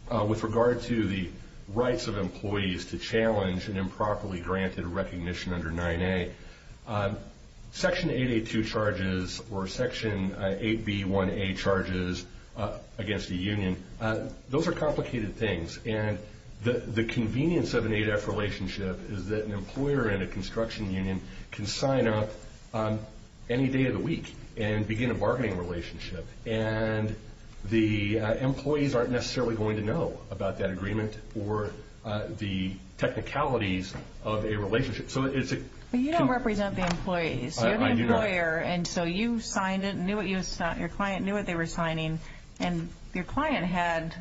the rights of employees to challenge an improperly granted recognition under 9A, Section 882 charges or Section 8B1A charges against a union, those are complicated things. And the convenience of an 8F relationship is that an employer and a construction union can sign up any day of the week and begin a bargaining relationship, and the employees aren't necessarily going to know about that agreement or the technicalities of a relationship. You don't represent the employees. You're the employer, and so you signed it and your client knew what they were signing, and your client had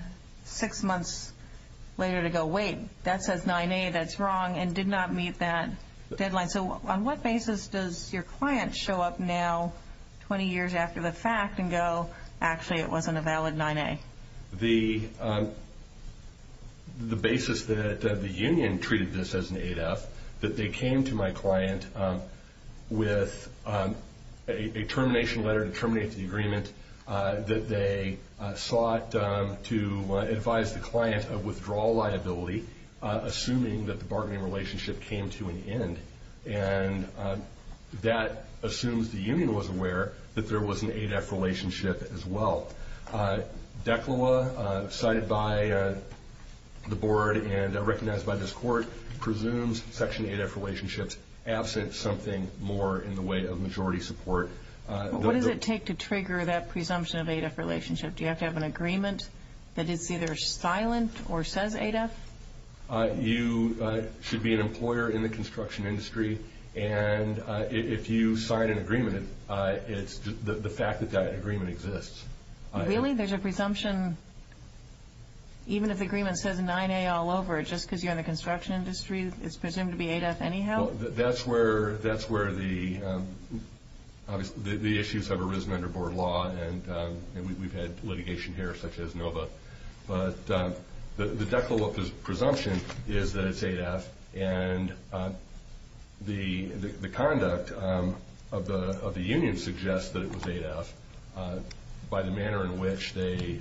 six months later to go, wait, that says 9A, that's wrong, and did not meet that deadline. So on what basis does your client show up now 20 years after the fact and go, actually, it wasn't a valid 9A? The basis that the union treated this as an 8F, that they came to my client with a termination letter, a termination agreement that they sought to advise the client of withdrawal liability, assuming that the bargaining relationship came to an end, and that assumes the union was aware that there was an 8F relationship as well. Declawa, cited by the board and recognized by this court, presumes Section 8F relationships absent something more in the way of majority support. What does it take to trigger that presumption of an 8F relationship? Do you have to have an agreement that it's either silent or says 8F? You should be an employer in the construction industry, and if you sign an agreement, it's the fact that that agreement exists. Really? There's a presumption, even if the agreement says 9A all over, just because you're in the construction industry, it's presumed to be 8F anyhow? That's where the issues have arisen under board law, and we've had litigation here such as NOVA. But the Declawa presumption is that it's 8F, and the conduct of the union suggests that it was 8F by the manner in which they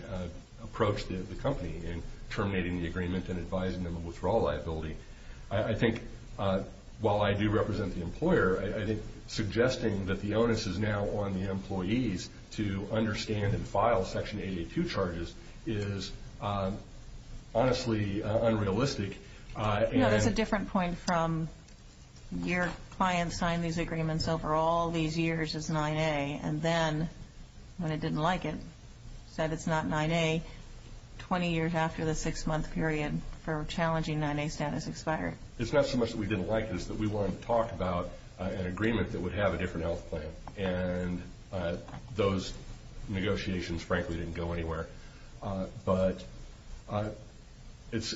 approached the company in terminating the agreement and advising them of withdrawal liability. I think while I do represent the employer, I think suggesting that the onus is now on the employees to understand and file Section 882 charges is honestly unrealistic. That's a different point from your client signing these agreements over all these years as 9A, and then when they didn't like it, said it's not 9A, 20 years after the six-month period for challenging 9A status expired. It's not so much that we didn't like this, but we wanted to talk about an agreement that would have a different health plan, and those negotiations frankly didn't go anywhere. But it's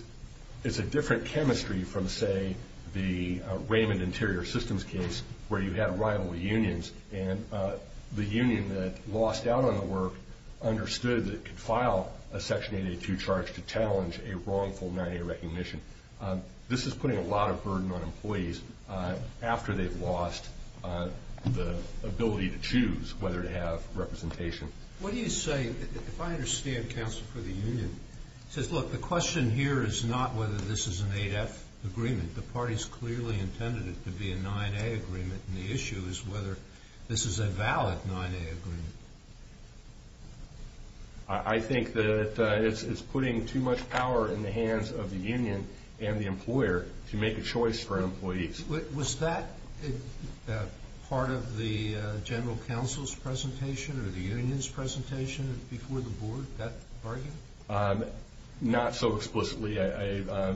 a different chemistry from, say, the Raymond Interior Systems case, where you have rival unions, and the union that lost out on the work understood that it could file a Section 882 charge to challenge a wrongful 9A recognition. This is putting a lot of burden on employees after they've lost the ability to choose whether to have representation. What do you say, if I understand counsel for the union, says, look, the question here is not whether this is an 8F agreement. The parties clearly intended it to be a 9A agreement, and the issue is whether this is a valid 9A agreement. I think that it's putting too much power in the hands of the union and the employer to make a choice for employees. Was that part of the general counsel's presentation or the union's presentation before the board, that argument? Not so explicitly. I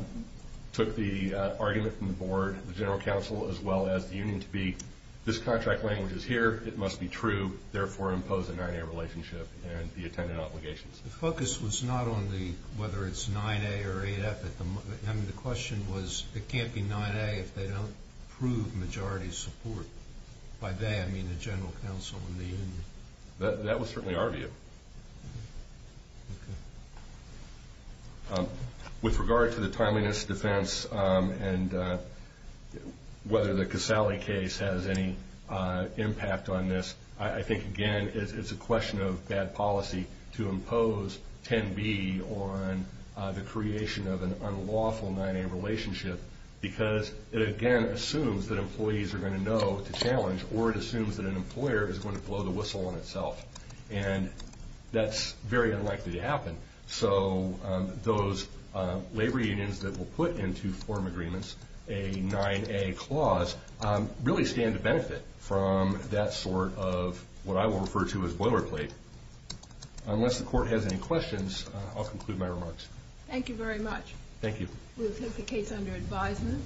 took the argument from the board, the general counsel, as well as the union to be, this contract language is here, it must be true, therefore impose a 9A relationship and the intended obligations. The focus was not on whether it's 9A or 8F. I mean, the question was, it can't be 9A if they don't approve majority support. By that, I mean the general counsel and the union. That was certainly our view. With regard to the timeliness defense and whether the Casale case has any impact on this, I think, again, it's a question of bad policy to impose 10B on the creation of an unlawful 9A relationship because it, again, assumes that employees are going to know to challenge or it assumes that an employer is going to blow the whistle on itself. And that's very unlikely to happen. So those labor unions that will put into form agreements a 9A clause really stand to benefit from that sort of what I will refer to as boilerplate. Unless the court has any questions, I'll conclude my remarks. Thank you very much. Thank you. We'll take the case under advisement.